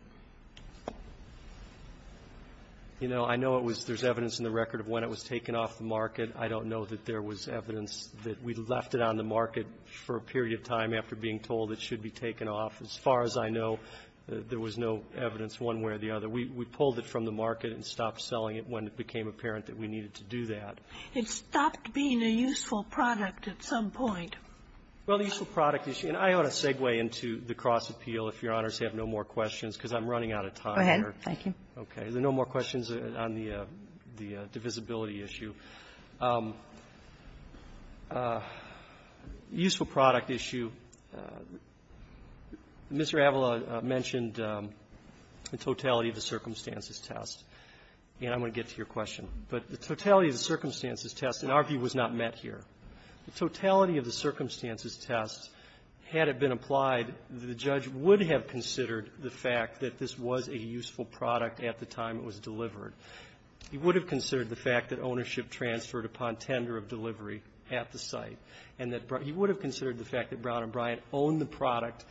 You know, I know it was — there's evidence in the record of when it was taken off the market. I don't know that there was evidence that we left it on the market for a period of time after being told it should be taken off. As far as I know, there was no evidence one way or the other. We — we pulled it from the market and stopped selling it when it became apparent that we needed to do that. It stopped being a useful product at some point. Well, the useful product issue — and I ought to segue into the cross-appeal if Your Honors have no more questions, because I'm running out of time. Go ahead. Thank you. Okay. Is there no more questions on the — the divisibility issue? The useful product issue, Mr. Avala mentioned the totality of the circumstances test, and I'm going to get to your question, but the totality of the circumstances test, in our view, was not met here. The totality of the circumstances test, had it been applied, the judge would have considered the fact that this was a useful product at the time it was delivered. He would have considered the fact that ownership transferred upon tender of delivery at the site, and that — he would have considered the fact that Brown and Bryant owned the product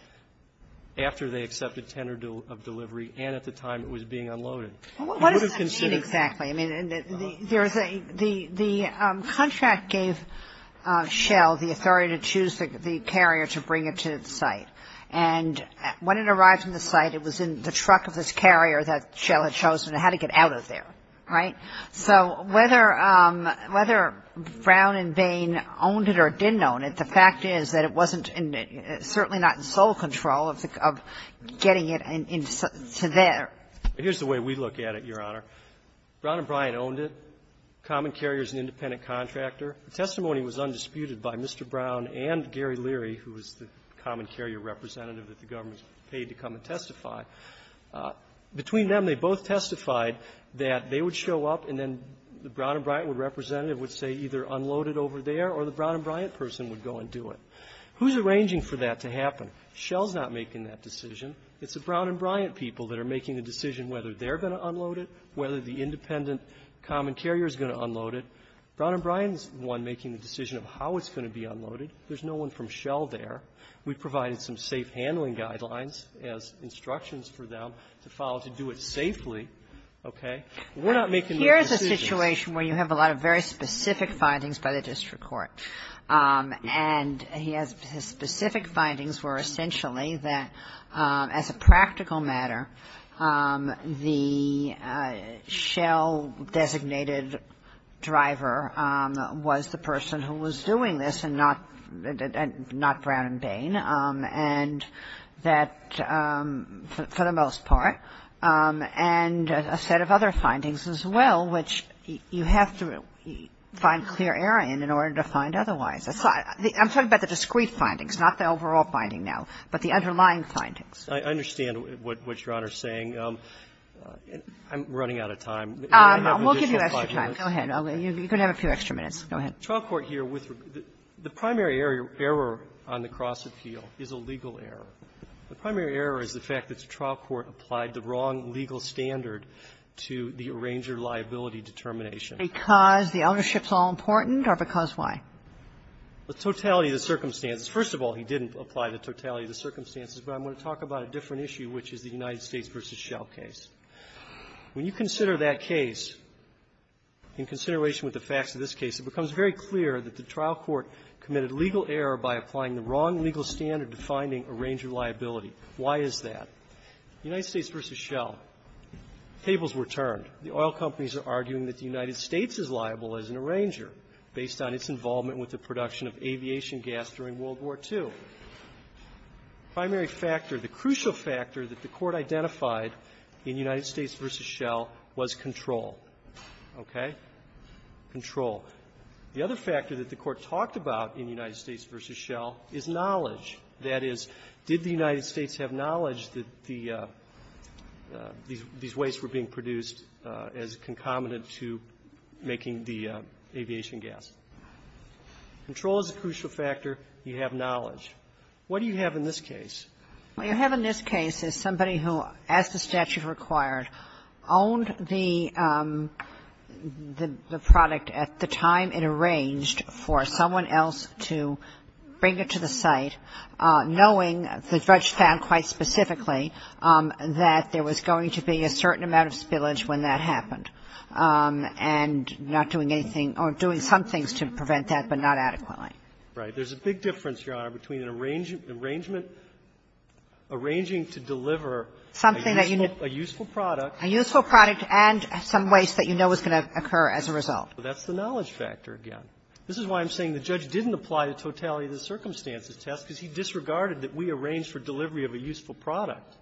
after they accepted tender of delivery and at the time it was being He would have considered — Well, what does that mean, exactly? I mean, there is a — the contract gave Shell the authority to choose the carrier to bring it to the site, and when it arrived on the site, it was in the truck of this carrier, right? So whether — whether Brown and Bain owned it or didn't own it, the fact is that it wasn't in — certainly not in sole control of getting it in — to there. Here's the way we look at it, Your Honor. Brown and Bryant owned it. Common Carrier is an independent contractor. The testimony was undisputed by Mr. Brown and Gary Leary, who was the Common Carrier representative that the government paid to come and testify. Between them, they both testified that they would show up and then the Brown and Bryant representative would say either unload it over there or the Brown and Bryant person would go and do it. Who's arranging for that to happen? Shell's not making that decision. It's the Brown and Bryant people that are making the decision whether they're going to unload it, whether the independent Common Carrier is going to unload it. Brown and Bryant is the one making the decision of how it's going to be unloaded. There's no one from Shell there. We provided some safe handling guidelines as instructions for them to follow to do it safely, okay? We're not making those decisions. Kagan. Here's a situation where you have a lot of very specific findings by the district court, and he has — his specific findings were essentially that as a practical matter, the Shell-designated driver was the person who was doing this and not — and not Brown and Bain, and that for the most part, and a set of other findings as well, which you have to find clear error in in order to find otherwise. I'm talking about the discrete findings, not the overall finding now, but the underlying findings. I understand what Your Honor is saying. I'm running out of time. We'll give you extra time. Go ahead. You're going to have a few extra minutes. Go ahead. The trial court here with — the primary error on the cross-appeal is a legal error. The primary error is the fact that the trial court applied the wrong legal standard to the arranger liability determination. Because the ownership's all-important, or because why? The totality of the circumstances. First of all, he didn't apply the totality of the circumstances, but I'm going to talk about a different issue, which is the United States v. Shell case. When you consider that case in consideration with the facts of this case, it becomes very clear that the trial court committed legal error by applying the wrong legal standard to finding arranger liability. Why is that? United States v. Shell. Tables were turned. The oil companies are arguing that the United States is liable as an arranger based on its involvement with the production of aviation gas during World War II. So, primary factor, the crucial factor that the court identified in United States v. Shell was control. Okay? Control. The other factor that the court talked about in United States v. Shell is knowledge. That is, did the United States have knowledge that these wastes were being produced as concomitant to making the aviation gas? Control is a crucial factor. You have knowledge. What do you have in this case? Well, you have in this case is somebody who, as the statute required, owned the product at the time it arranged for someone else to bring it to the site, knowing, the judge found quite specifically, that there was going to be a certain amount of spillage when that happened, and not doing anything or doing some things to prevent that, but not adequately. Right. There's a big difference, Your Honor, between an arrangement, arranging to deliver a useful product. A useful product and some waste that you know is going to occur as a result. That's the knowledge factor again. This is why I'm saying the judge didn't apply the totality of the circumstances test, because he disregarded that we arranged for delivery of a useful product.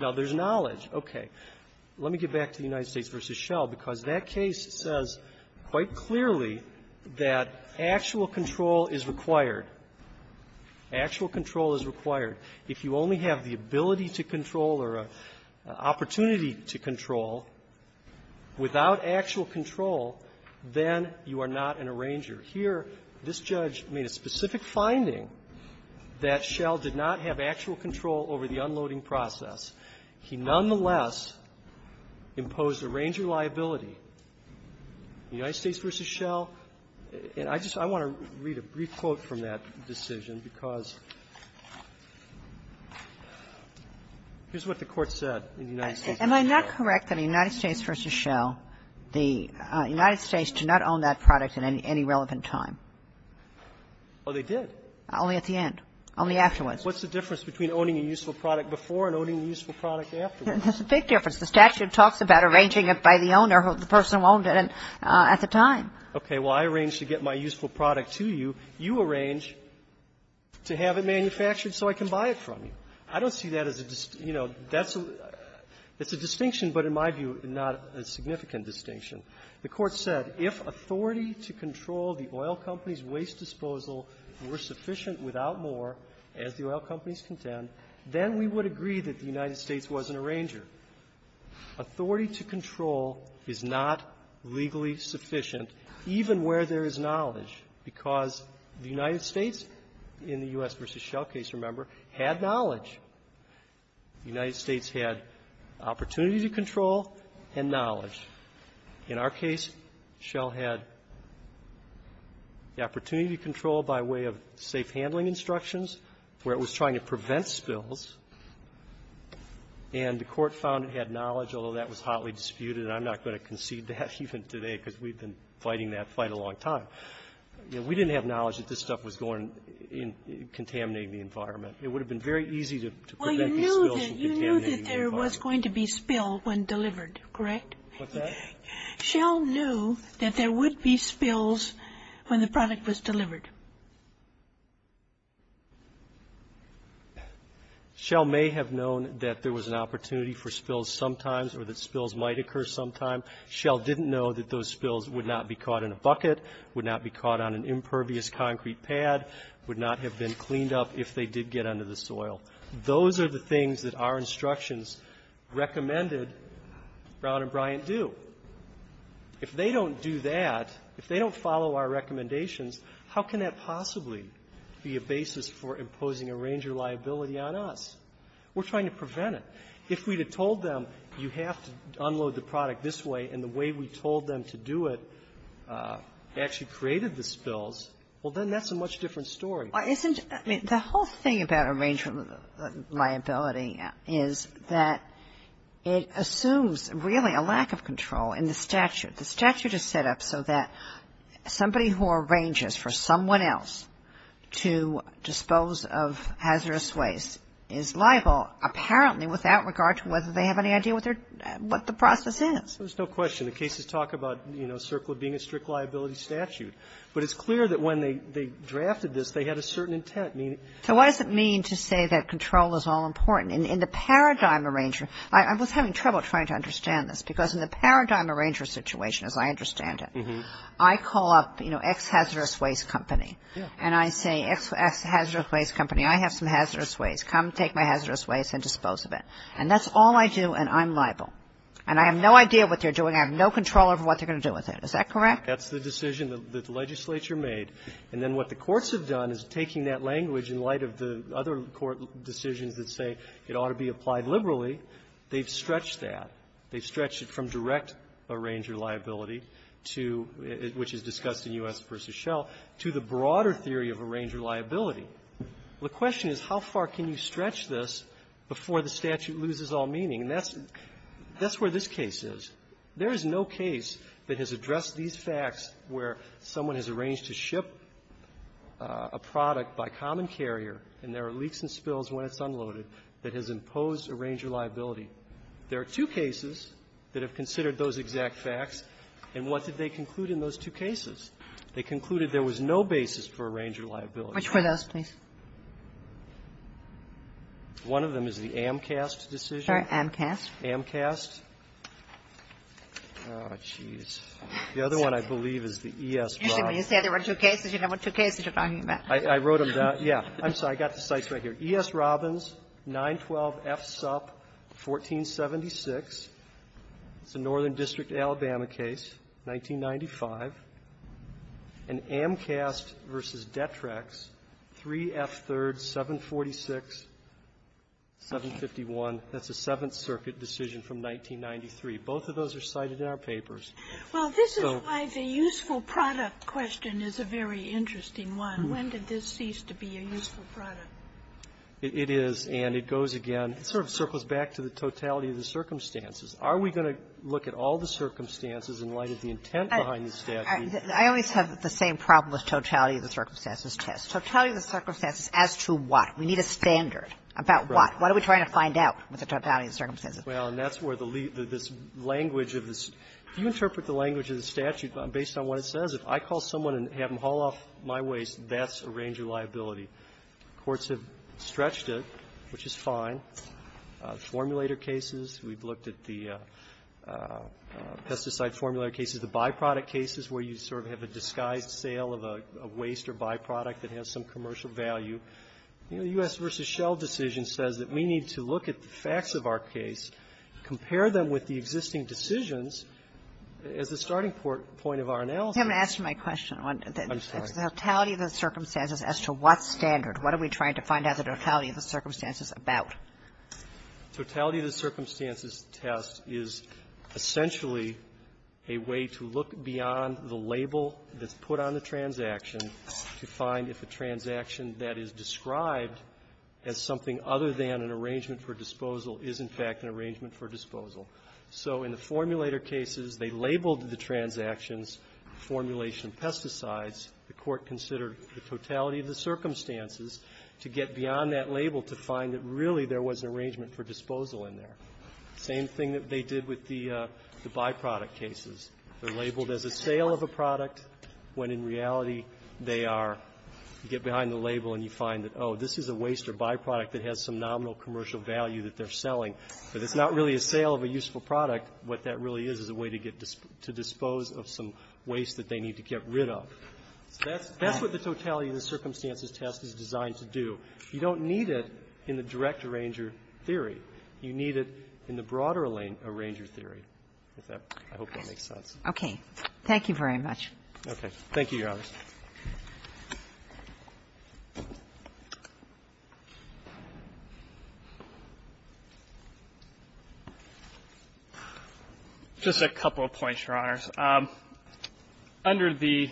Now, there's knowledge. Okay. Let me get back to the United States v. Shell, because that case says quite clearly that actual control is required. Actual control is required. If you only have the ability to control or an opportunity to control without actual control, then you are not an arranger. Here, this judge made a specific finding that Shell did not have actual control over the unloading process. He nonetheless imposed arranger liability. The United States v. Shell, and I just want to read a brief quote from that decision because here's what the Court said in the United States v. Shell. Am I not correct that in the United States v. Shell, the United States did not own that product at any relevant time? Oh, they did. Only at the end. Only afterwards. What's the difference between owning a useful product before and owning a useful product afterwards? There's a big difference. The statute talks about arranging it by the owner or the person who owned it at the time. Okay. Well, I arranged to get my useful product to you. You arranged to have it manufactured so I can buy it from you. I don't see that as a, you know, that's a distinction, but in my view, not a significant distinction. The Court said if authority to control the oil company's waste disposal were sufficient Authority to control is not legally sufficient, even where there is knowledge, because the United States in the U.S. v. Shell case, remember, had knowledge. The United States had opportunity to control and knowledge. In our case, Shell had the opportunity to control by way of safe handling instructions where it was trying to prevent spills. And the Court found it had knowledge, although that was hotly disputed, and I'm not going to concede that even today because we've been fighting that fight a long time. We didn't have knowledge that this stuff was going to contaminate the environment. It would have been very easy to prevent these spills from contaminating the environment. Well, you knew that there was going to be spill when delivered, correct? What's that? Shell knew that there would be spills when the product was delivered. Correct. Shell may have known that there was an opportunity for spills sometimes or that spills might occur sometimes. Shell didn't know that those spills would not be caught in a bucket, would not be caught on an impervious concrete pad, would not have been cleaned up if they did get under the soil. Those are the things that our instructions recommended Brown and Bryant do. If they don't do that, if they don't follow our recommendations, how can that possibly be a basis for imposing arranger liability on us? We're trying to prevent it. If we had told them you have to unload the product this way and the way we told them to do it actually created the spills, well, then that's a much different story. Well, isn't the whole thing about arranger liability is that it assumes really a lack of control in the statute. The statute is set up so that somebody who arranges for someone else to dispose of hazardous waste is liable apparently without regard to whether they have any idea what the process is. There's no question. The cases talk about, you know, Circle being a strict liability statute. But it's clear that when they drafted this, they had a certain intent. So what does it mean to say that control is all important? In the paradigm arranger, I was having trouble trying to understand this because in the paradigm arranger situation as I understand it, I call up, you know, ex-hazardous waste company. And I say, ex-hazardous waste company, I have some hazardous waste. Come take my hazardous waste and dispose of it. And that's all I do and I'm liable. And I have no idea what they're doing. I have no control over what they're going to do with it. Is that correct? That's the decision that the legislature made. And then what the courts have done is taking that language in light of the other court decisions that say it ought to be applied liberally. They've stretched that. They've stretched it from direct arranger liability to the broader theory of arranger liability. The question is, how far can you stretch this before the statute loses all meaning? And that's where this case is. There is no case that has addressed these facts where someone has arranged to ship a product by common carrier and there are leaks and spills when it's unloaded that has imposed arranger liability. There are two cases that have considered those exact facts. And what did they conclude in those two cases? They concluded there was no basis for arranger liability. Kagan. Which were those, please? One of them is the AMCAST decision. Sorry, AMCAST? AMCAST. Oh, geez. The other one, I believe, is the ESROB. Actually, when you say there were two cases, you know what two cases you're talking about. I wrote them down. Yeah. I'm sorry. I've got the cites right here. ESROB 912F Sup 1476. It's a Northern District, Alabama case, 1995. And AMCAST v. Detrex 3F 3rd 746, 751. That's a Seventh Circuit decision from 1993. Both of those are cited in our papers. Well, this is why the useful product question is a very interesting one. When did this cease to be a useful product? It is. And it goes again. It sort of circles back to the totality of the circumstances. Are we going to look at all the circumstances in light of the intent behind the statute? I always have the same problem with totality of the circumstances test. Totality of the circumstances as to what? We need a standard about what? What are we trying to find out with the totality of the circumstances? Well, and that's where the language of this. You interpret the language of the statute based on what it says. If I call someone and have them haul off my waste, that's a range of liability. Courts have stretched it, which is fine. Formulator cases, we've looked at the pesticide formulator cases. The byproduct cases where you sort of have a disguised sale of a waste or byproduct that has some commercial value. You know, the U.S. v. Shell decision says that we need to look at the facts of our case, compare them with the existing decisions as the starting point of our analysis. You haven't asked my question. I'm sorry. Totality of the circumstances as to what standard? What are we trying to find out the totality of the circumstances about? Totality of the circumstances test is essentially a way to look beyond the label that's put on the transaction to find if a transaction that is described as something other than an arrangement for disposal is, in fact, an arrangement for disposal. So in the formulator cases, they labeled the transactions, formulation of pesticides. The court considered the totality of the circumstances to get beyond that label to find that really there was an arrangement for disposal in there. Same thing that they did with the byproduct cases. They're labeled as a sale of a product when in reality they are, you get behind the label and you find that, oh, this is a waste or byproduct that has some nominal commercial value that they're selling, but it's not really a sale of a useful product. What that really is is a way to dispose of some waste that they need to get rid of. So that's what the totality of the circumstances test is designed to do. You don't need it in the direct arranger theory. You need it in the broader arranger theory. I hope that makes sense. Okay. Thank you very much. Okay. Thank you, Your Honors. Just a couple of points, Your Honors. Under the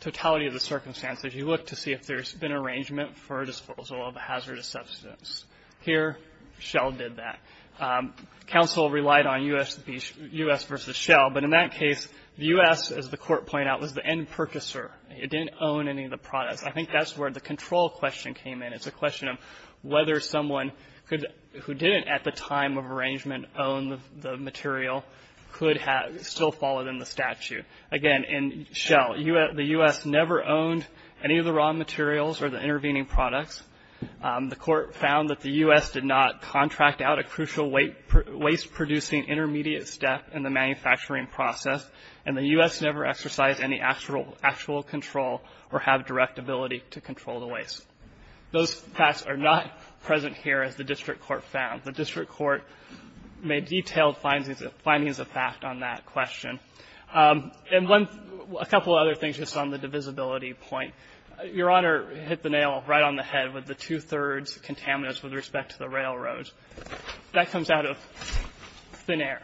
totality of the circumstances, you look to see if there's been arrangement for disposal of a hazardous substance. Here, Shell did that. Counsel relied on U.S. v. Shell, but in that case, the U.S., as the court pointed out, was the end purchaser. It didn't own any of the products. I think that's where the control question came in. It's a question of whether someone who didn't at the time of arrangement own the material could still follow in the statute. Again, in Shell, the U.S. never owned any of the raw materials or the intervening products. The court found that the U.S. did not contract out a crucial waste-producing intermediate step in the manufacturing process, and the U.S. never exercised any actual control or have direct ability to control the waste. Those facts are not present here, as the district court found. The district court made detailed findings of fact on that question. And a couple of other things, just on the divisibility point. Your Honor hit the nail right on the head with the two-thirds contaminants with respect to the railroads. That comes out of thin air.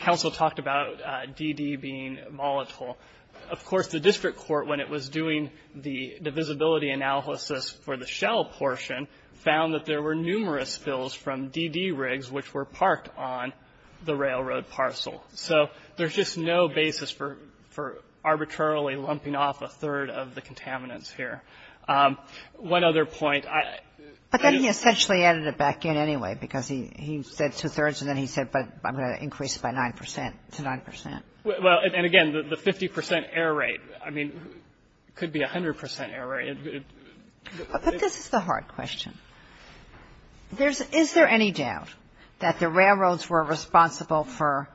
Counsel talked about DD being volatile. Of course, the district court, when it was doing the divisibility analysis for the Shell portion, found that there were numerous spills from DD rigs which were parked on the railroad parcel. So there's just no basis for arbitrarily lumping off a third of the contaminants here. One other point. But then he essentially added it back in anyway, because he said two-thirds, and then he said, but I'm going to increase it by 9 percent to 9 percent. Well, and again, the 50 percent error rate, I mean, could be 100 percent error rate. But this is the hard question. Is there any doubt that the railroads were responsible for,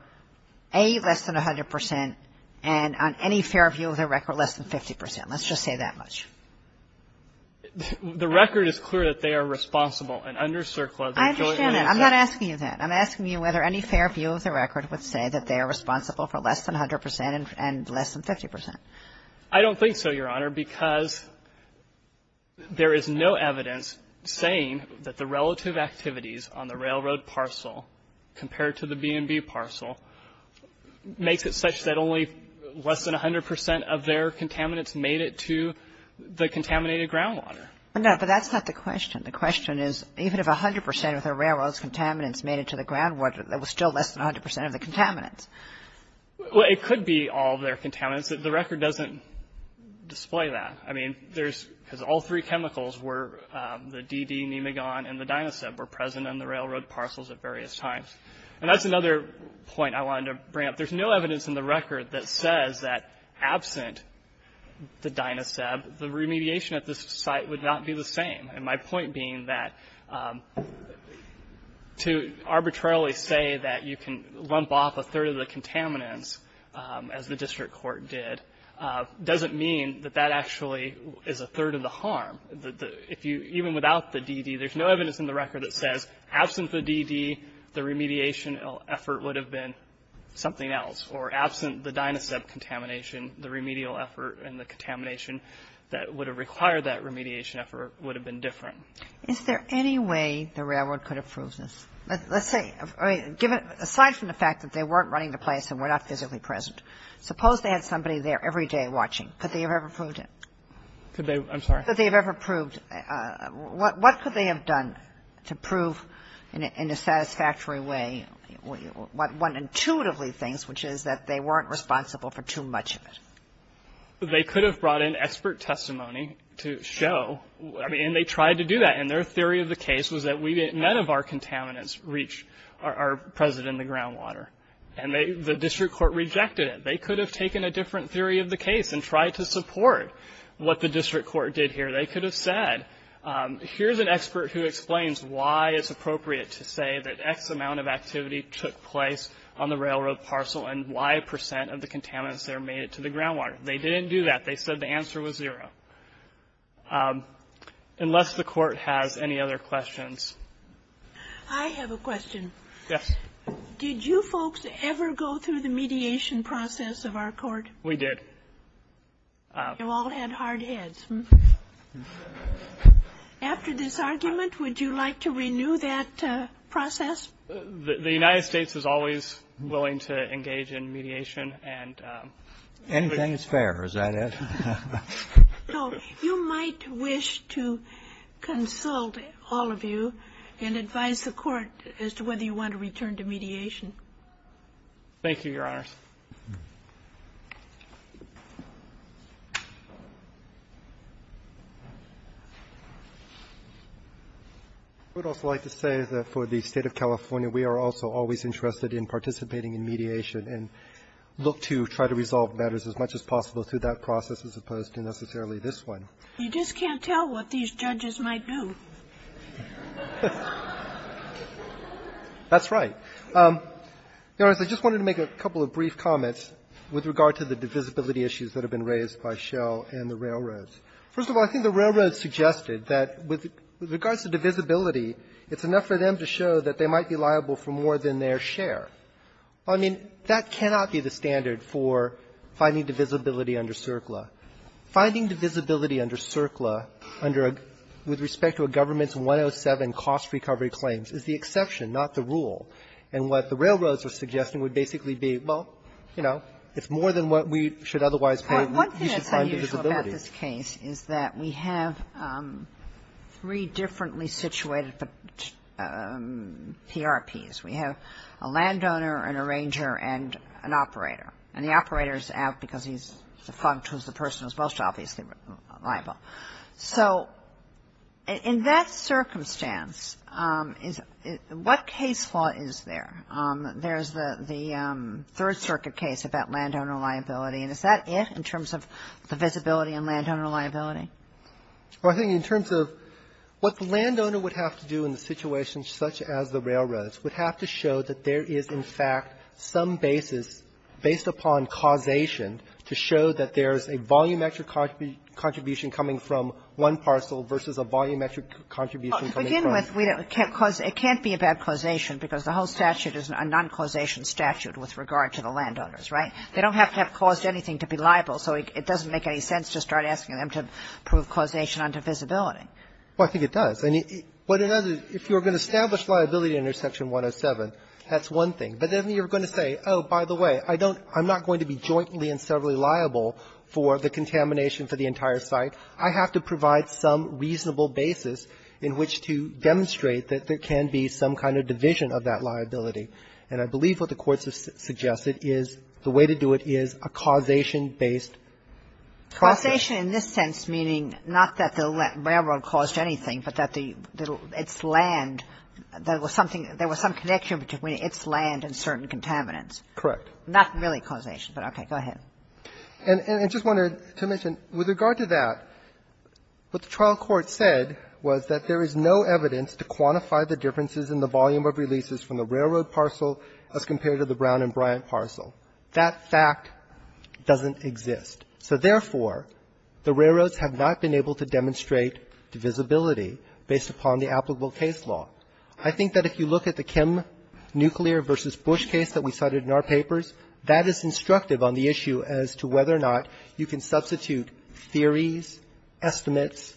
A, less than 100 percent, and on any fair view of the record, less than 50 percent? Let's just say that much. The record is clear that they are responsible. And under CERCLA, the joint lawyer said that. I understand that. I'm not asking you that. I'm asking you whether any fair view of the record would say that they are responsible for less than 100 percent and less than 50 percent. I don't think so, Your Honor, because there is no evidence saying that the relative activities on the railroad parcel compared to the B&B parcel makes it such that only less than 100 percent of their contaminants made it to the contaminated groundwater. No, but that's not the question. The question is, even if 100 percent of the railroad's contaminants made it to the groundwater, there was still less than 100 percent of the contaminants. Well, it could be all of their contaminants. The record doesn't display that. I mean, there's, because all three chemicals were, the DD, Nemagon, and the Dynaseb, were present on the railroad parcels at various times. And that's another point I wanted to bring up. There's no evidence in the record that says that absent the Dynaseb, the remediation at this site would not be the same. And my point being that to arbitrarily say that you can lump off a third of the contaminants, as the district court did, doesn't mean that that actually is a third of the harm. Even without the DD, there's no evidence in the record that says absent the DD, the remediation effort would have been something else. Or absent the Dynaseb contamination, the remedial effort and the contamination that would have required that remediation effort would have been different. Is there any way the railroad could have proved this? Let's say, aside from the fact that they weren't running the place and were not physically present, suppose they had somebody there every day watching. Could they have ever proved it? Could they? I'm sorry? Could they have ever proved? What could they have done to prove in a satisfactory way what one intuitively thinks, which is that they weren't responsible for too much of it? They could have brought in expert testimony to show. And they tried to do that. And their theory of the case was that none of our contaminants reached our present in the groundwater. And the district court rejected it. They could have taken a different theory of the case and tried to support what the district court did here. They could have said, here's an expert who explains why it's appropriate to say that X amount of activity took place on the railroad parcel and Y percent of the groundwater. They didn't do that. They said the answer was zero. Unless the court has any other questions. I have a question. Yes. Did you folks ever go through the mediation process of our court? We did. You all had hard heads. After this argument, would you like to renew that process? The United States is always willing to engage in mediation. Anything is fair. Is that it? You might wish to consult all of you and advise the court as to whether you want to return to mediation. Thank you, Your Honors. I would also like to say that for the State of California, we are also always interested in participating in mediation and look to try to resolve matters as much as possible through that process as opposed to necessarily this one. You just can't tell what these judges might do. That's right. Your Honors, I just wanted to make a couple of brief comments with regard to the divisibility issues that have been raised by Schell and the railroads. First of all, I think the railroads suggested that with regards to divisibility, it's enough for them to show that they might be liable for more than their share. I mean, that cannot be the standard for finding divisibility under CERCLA. Finding divisibility under CERCLA under a – with respect to a government's 107 cost recovery claims is the exception, not the rule. And what the railroads are suggesting would basically be, well, you know, it's more than what we should otherwise pay. You should find divisibility. What's unusual about this case is that we have three differently situated PRPs. We have a landowner, an arranger, and an operator. And the operator's out because he's defunct, who's the person who's most obviously liable. So in that circumstance, what case law is there? There's the Third Circuit case about landowner liability. And is that it in terms of the divisibility and landowner liability? Well, I think in terms of what the landowner would have to do in the situation such as the railroads would have to show that there is, in fact, some basis based upon causation to show that there's a volumetric contribution coming from one parcel versus a volumetric contribution coming from the other. Well, to begin with, it can't be a bad causation because the whole statute is a non-causation statute with regard to the landowners, right? They don't have to have caused anything to be liable. So it doesn't make any sense to start asking them to prove causation under divisibility. Well, I think it does. And what it does is if you're going to establish liability under Section 107, that's one thing. But then you're going to say, oh, by the way, I don't – I'm not going to be jointly and severally liable for the contamination for the entire site. I have to provide some reasonable basis in which to demonstrate that there can be some kind of division of that liability. And I believe what the Court has suggested is the way to do it is a causation-based causation. Causation in this sense meaning not that the railroad caused anything, but that the – its land, there was something – there was some connection between its land and certain contaminants. Correct. Not really causation, but okay. Go ahead. And I just wanted to mention, with regard to that, what the trial court said was that there is no evidence to quantify the differences in the volume of releases from the railroad parcel as compared to the Brown and Bryant parcel. That fact doesn't exist. So therefore, the railroads have not been able to demonstrate divisibility based upon the applicable case law. I think that if you look at the Kim Nuclear v. Bush case that we cited in our papers, that is instructive on the issue as to whether or not you can substitute theories, estimates,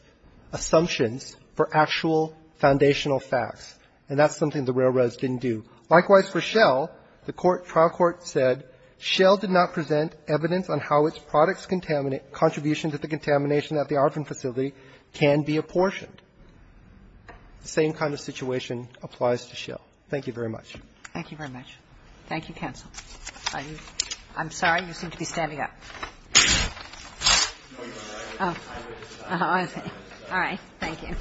assumptions for actual foundational facts. And that's something the railroads didn't do. Likewise for Shell, the trial court said Shell did not present evidence on how its products' contribution to the contamination at the Arvin facility can be apportioned. The same kind of situation applies to Shell. Thank you very much. Thank you very much. Thank you, counsel. I'm sorry. You seem to be standing up. Oh, I see. All right. Thank you.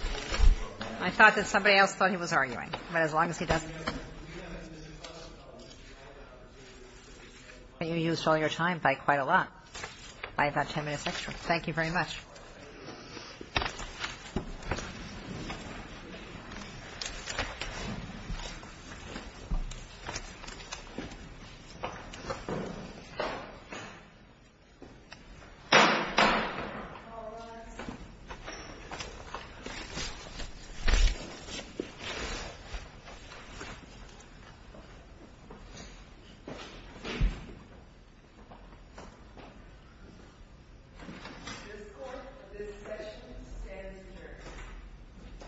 I thought that somebody else thought he was arguing. But as long as he doesn't. You used all your time by quite a lot. By about ten minutes extra. Thank you very much. Thank you. This court, this session stands adjourned.